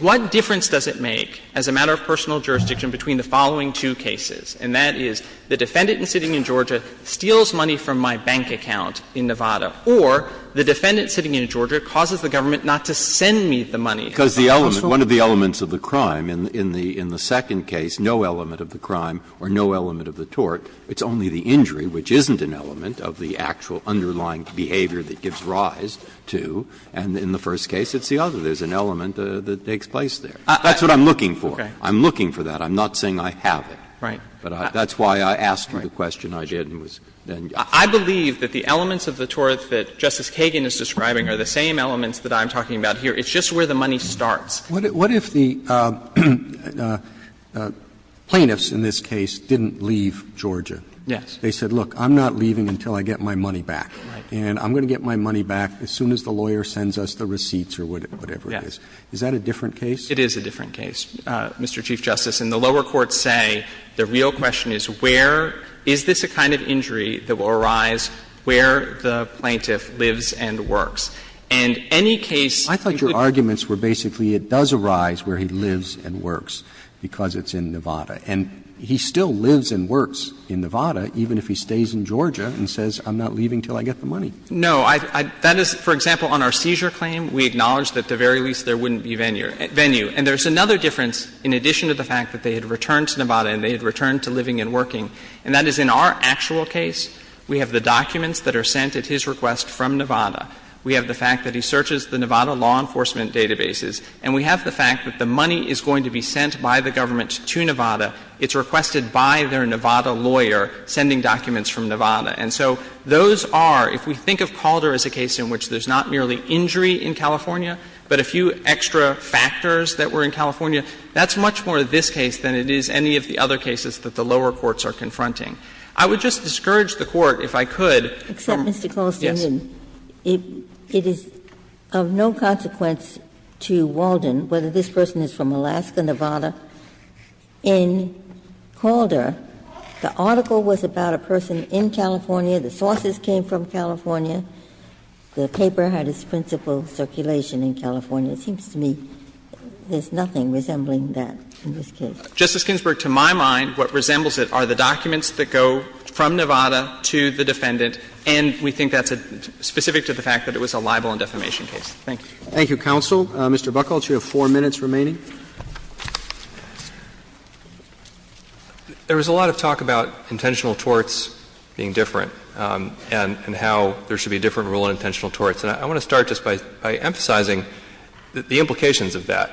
What difference does it make, as a matter of personal jurisdiction, between the following two cases, and that is, the defendant sitting in Georgia steals money from my bank account in Nevada, or the defendant sitting in Georgia causes the government not to send me the money. Because the element, one of the elements of the crime in the second case, no element of the crime or no element of the tort, it's only the injury, which isn't an element of the actual underlying behavior that gives rise to, and in the first case, it's the other. There's an element that takes place there. That's what I'm looking for. I'm looking for that. I'm not saying I have it. But that's why I asked you the question I did and was then. I believe that the elements of the tort that Justice Kagan is describing are the same elements that I'm talking about here. It's just where the money starts. Roberts. What if the plaintiffs in this case didn't leave Georgia? Yes. They said, look, I'm not leaving until I get my money back. Right. And I'm going to get my money back as soon as the lawyer sends us the receipts or whatever it is. Yes. Is that a different case? It is a different case, Mr. Chief Justice. And the lower courts say the real question is where is this a kind of injury that will arise where the plaintiff lives and works? And any case that could cause that. I thought your arguments were basically it does arise where he lives and works because it's in Nevada. And he still lives and works in Nevada, even if he stays in Georgia and says, I'm not leaving until I get the money. No. That is, for example, on our seizure claim, we acknowledge that at the very least there wouldn't be venue. And there's another difference in addition to the fact that they had returned to Nevada and they had returned to living and working, and that is in our actual case, we have the documents that are sent at his request from Nevada. We have the fact that he searches the Nevada law enforcement databases. And we have the fact that the money is going to be sent by the government to Nevada. It's requested by their Nevada lawyer, sending documents from Nevada. And so those are, if we think of Calder as a case in which there's not merely injury in California, but a few extra factors that were in California, that's much more this case than it is any of the other cases that the lower courts are confronting. I would just discourage the Court, if I could. Ginsburg. Except, Mr. Colston, it is of no consequence to Walden whether this person is from Alaska, Nevada. In Calder, the article was about a person in California. The sources came from California. The paper had its principal circulation in California. It seems to me there's nothing resembling that in this case. Justice Ginsburg, to my mind, what resembles it are the documents that go from Nevada to the defendant, and we think that's specific to the fact that it was a libel and defamation case. Thank you. Thank you, counsel. Mr. Buckell, you have four minutes remaining. There was a lot of talk about intentional torts being different and how there should be a different rule on intentional torts. And I want to start just by emphasizing the implications of that.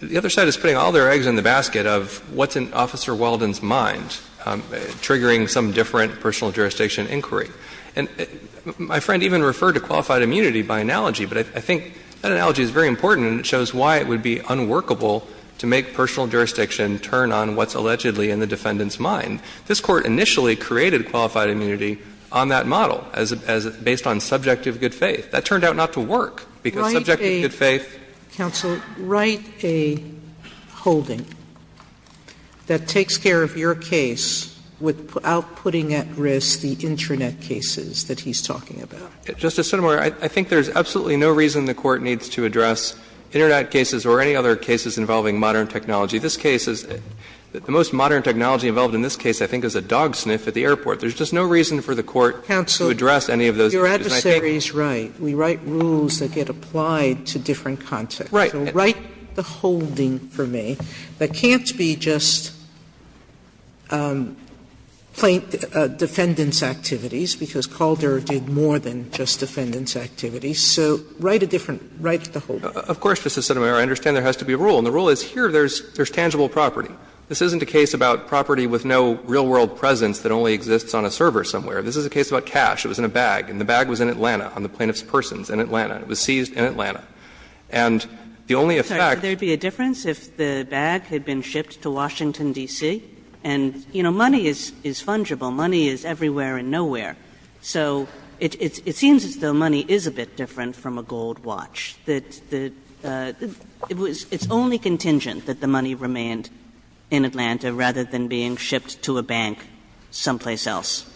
The other side is putting all their eggs in the basket of what's in Officer Walden's mind, triggering some different personal jurisdiction inquiry. And my friend even referred to qualified immunity by analogy, but I think that analogy is very important and it shows why it would be unworkable to make personal jurisdiction turn on what's allegedly in the defendant's mind. This Court initially created qualified immunity on that model, as it's based on subjective good faith. That turned out not to work, because subjective good faith. Sotomayor, write a holding that takes care of your case without putting at risk the Internet cases that he's talking about. Justice Sotomayor, I think there's absolutely no reason the Court needs to address Internet cases or any other cases involving modern technology. This case is the most modern technology involved in this case, I think, is a dog sniff at the airport. There's just no reason for the Court to address any of those issues. Counsel, your adversary is right. We write rules that get applied to different contexts. Right. So write the holding for me that can't be just defendant's activities, because Calder did more than just defendant's activities. So write a different, write the holding. Of course, Justice Sotomayor, I understand there has to be a rule. And the rule is here there's tangible property. This isn't a case about property with no real world presence that only exists on a server somewhere. This is a case about cash. It was in a bag. And the bag was in Atlanta, on the plaintiff's persons, in Atlanta. It was seized in Atlanta. And the only effect there'd be a difference if the bag had been shipped to Washington, D.C. And, you know, money is fungible. Money is everywhere and nowhere. So it seems as though money is a bit different from a gold watch. The, the, it's only contingent that the money remained in Atlanta rather than being shipped to a bank someplace else.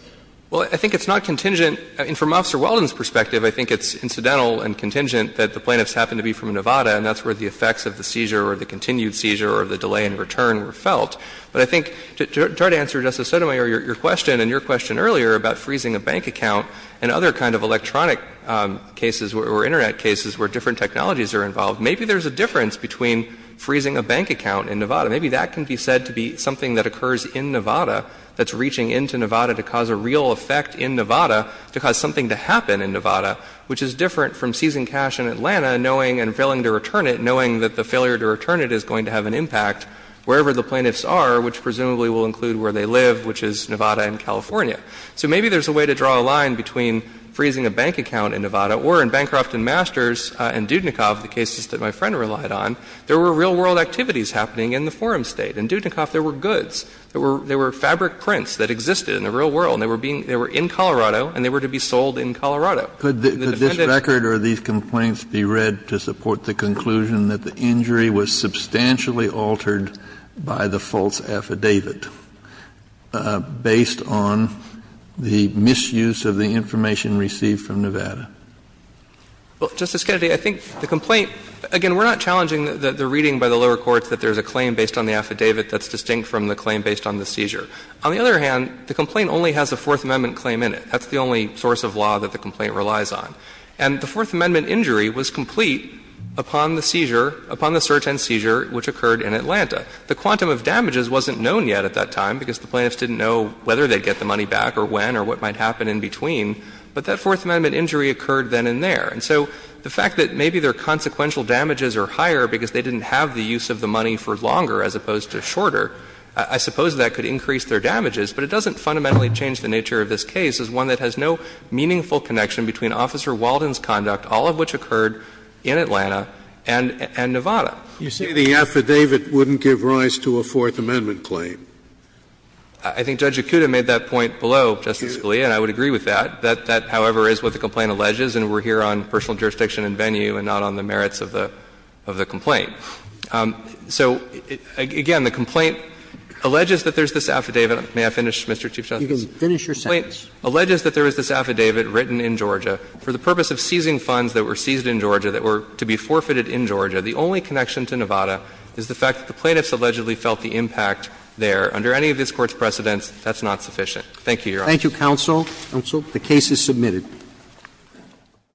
Well, I think it's not contingent. I mean, from Officer Weldon's perspective, I think it's incidental and contingent that the plaintiffs happened to be from Nevada, and that's where the effects of the seizure or the continued seizure or the delay in return were felt. But I think, to try to answer, Justice Sotomayor, your question and your question earlier about freezing a bank account and other kind of electronic cases or Internet cases where different technologies are involved, maybe there's a difference between freezing a bank account in Nevada. Maybe that can be said to be something that occurs in Nevada that's reaching into a bank and has a real effect in Nevada to cause something to happen in Nevada, which is different from seizing cash in Atlanta, knowing and failing to return it, knowing that the failure to return it is going to have an impact wherever the plaintiffs are, which presumably will include where they live, which is Nevada and California. So maybe there's a way to draw a line between freezing a bank account in Nevada, or in Bancroft and Masters and Dudnikov, the cases that my friend relied on, there were real-world activities happening in the forum state. In Dudnikov, there were goods, there were, there were fabric prints that existed in the real world, and they were being, they were in Colorado, and they were to be sold in Colorado. Kennedy, could this record or these complaints be read to support the conclusion that the injury was substantially altered by the false affidavit based on the misuse of the information received from Nevada? Well, Justice Kennedy, I think the complaint, again, we're not challenging the reading by the lower courts that there's a claim based on the affidavit that's distinct from the claim based on the seizure. On the other hand, the complaint only has a Fourth Amendment claim in it. That's the only source of law that the complaint relies on. And the Fourth Amendment injury was complete upon the seizure, upon the search and seizure which occurred in Atlanta. The quantum of damages wasn't known yet at that time, because the plaintiffs didn't know whether they'd get the money back or when or what might happen in between. But that Fourth Amendment injury occurred then and there. And so the fact that maybe their consequential damages are higher because they didn't have the use of the money for longer as opposed to shorter, I suppose that could increase their damages, but it doesn't fundamentally change the nature of this case as one that has no meaningful connection between Officer Walden's conduct, all of which occurred in Atlanta and in Nevada. You say the affidavit wouldn't give rise to a Fourth Amendment claim. I think Judge Acuda made that point below, Justice Scalia, and I would agree with that. That, however, is what the complaint alleges, and we're here on personal jurisdiction and venue and not on the merits of the complaint. So, again, the complaint alleges that there's this affidavit. May I finish, Mr. Chief Justice? You can finish your sentence. The complaint alleges that there is this affidavit written in Georgia for the purpose of seizing funds that were seized in Georgia that were to be forfeited in Georgia. The only connection to Nevada is the fact that the plaintiffs allegedly felt the impact there. Under any of this Court's precedents, that's not sufficient. Thank you, Your Honor. Thank you, counsel. Counsel. The case is submitted.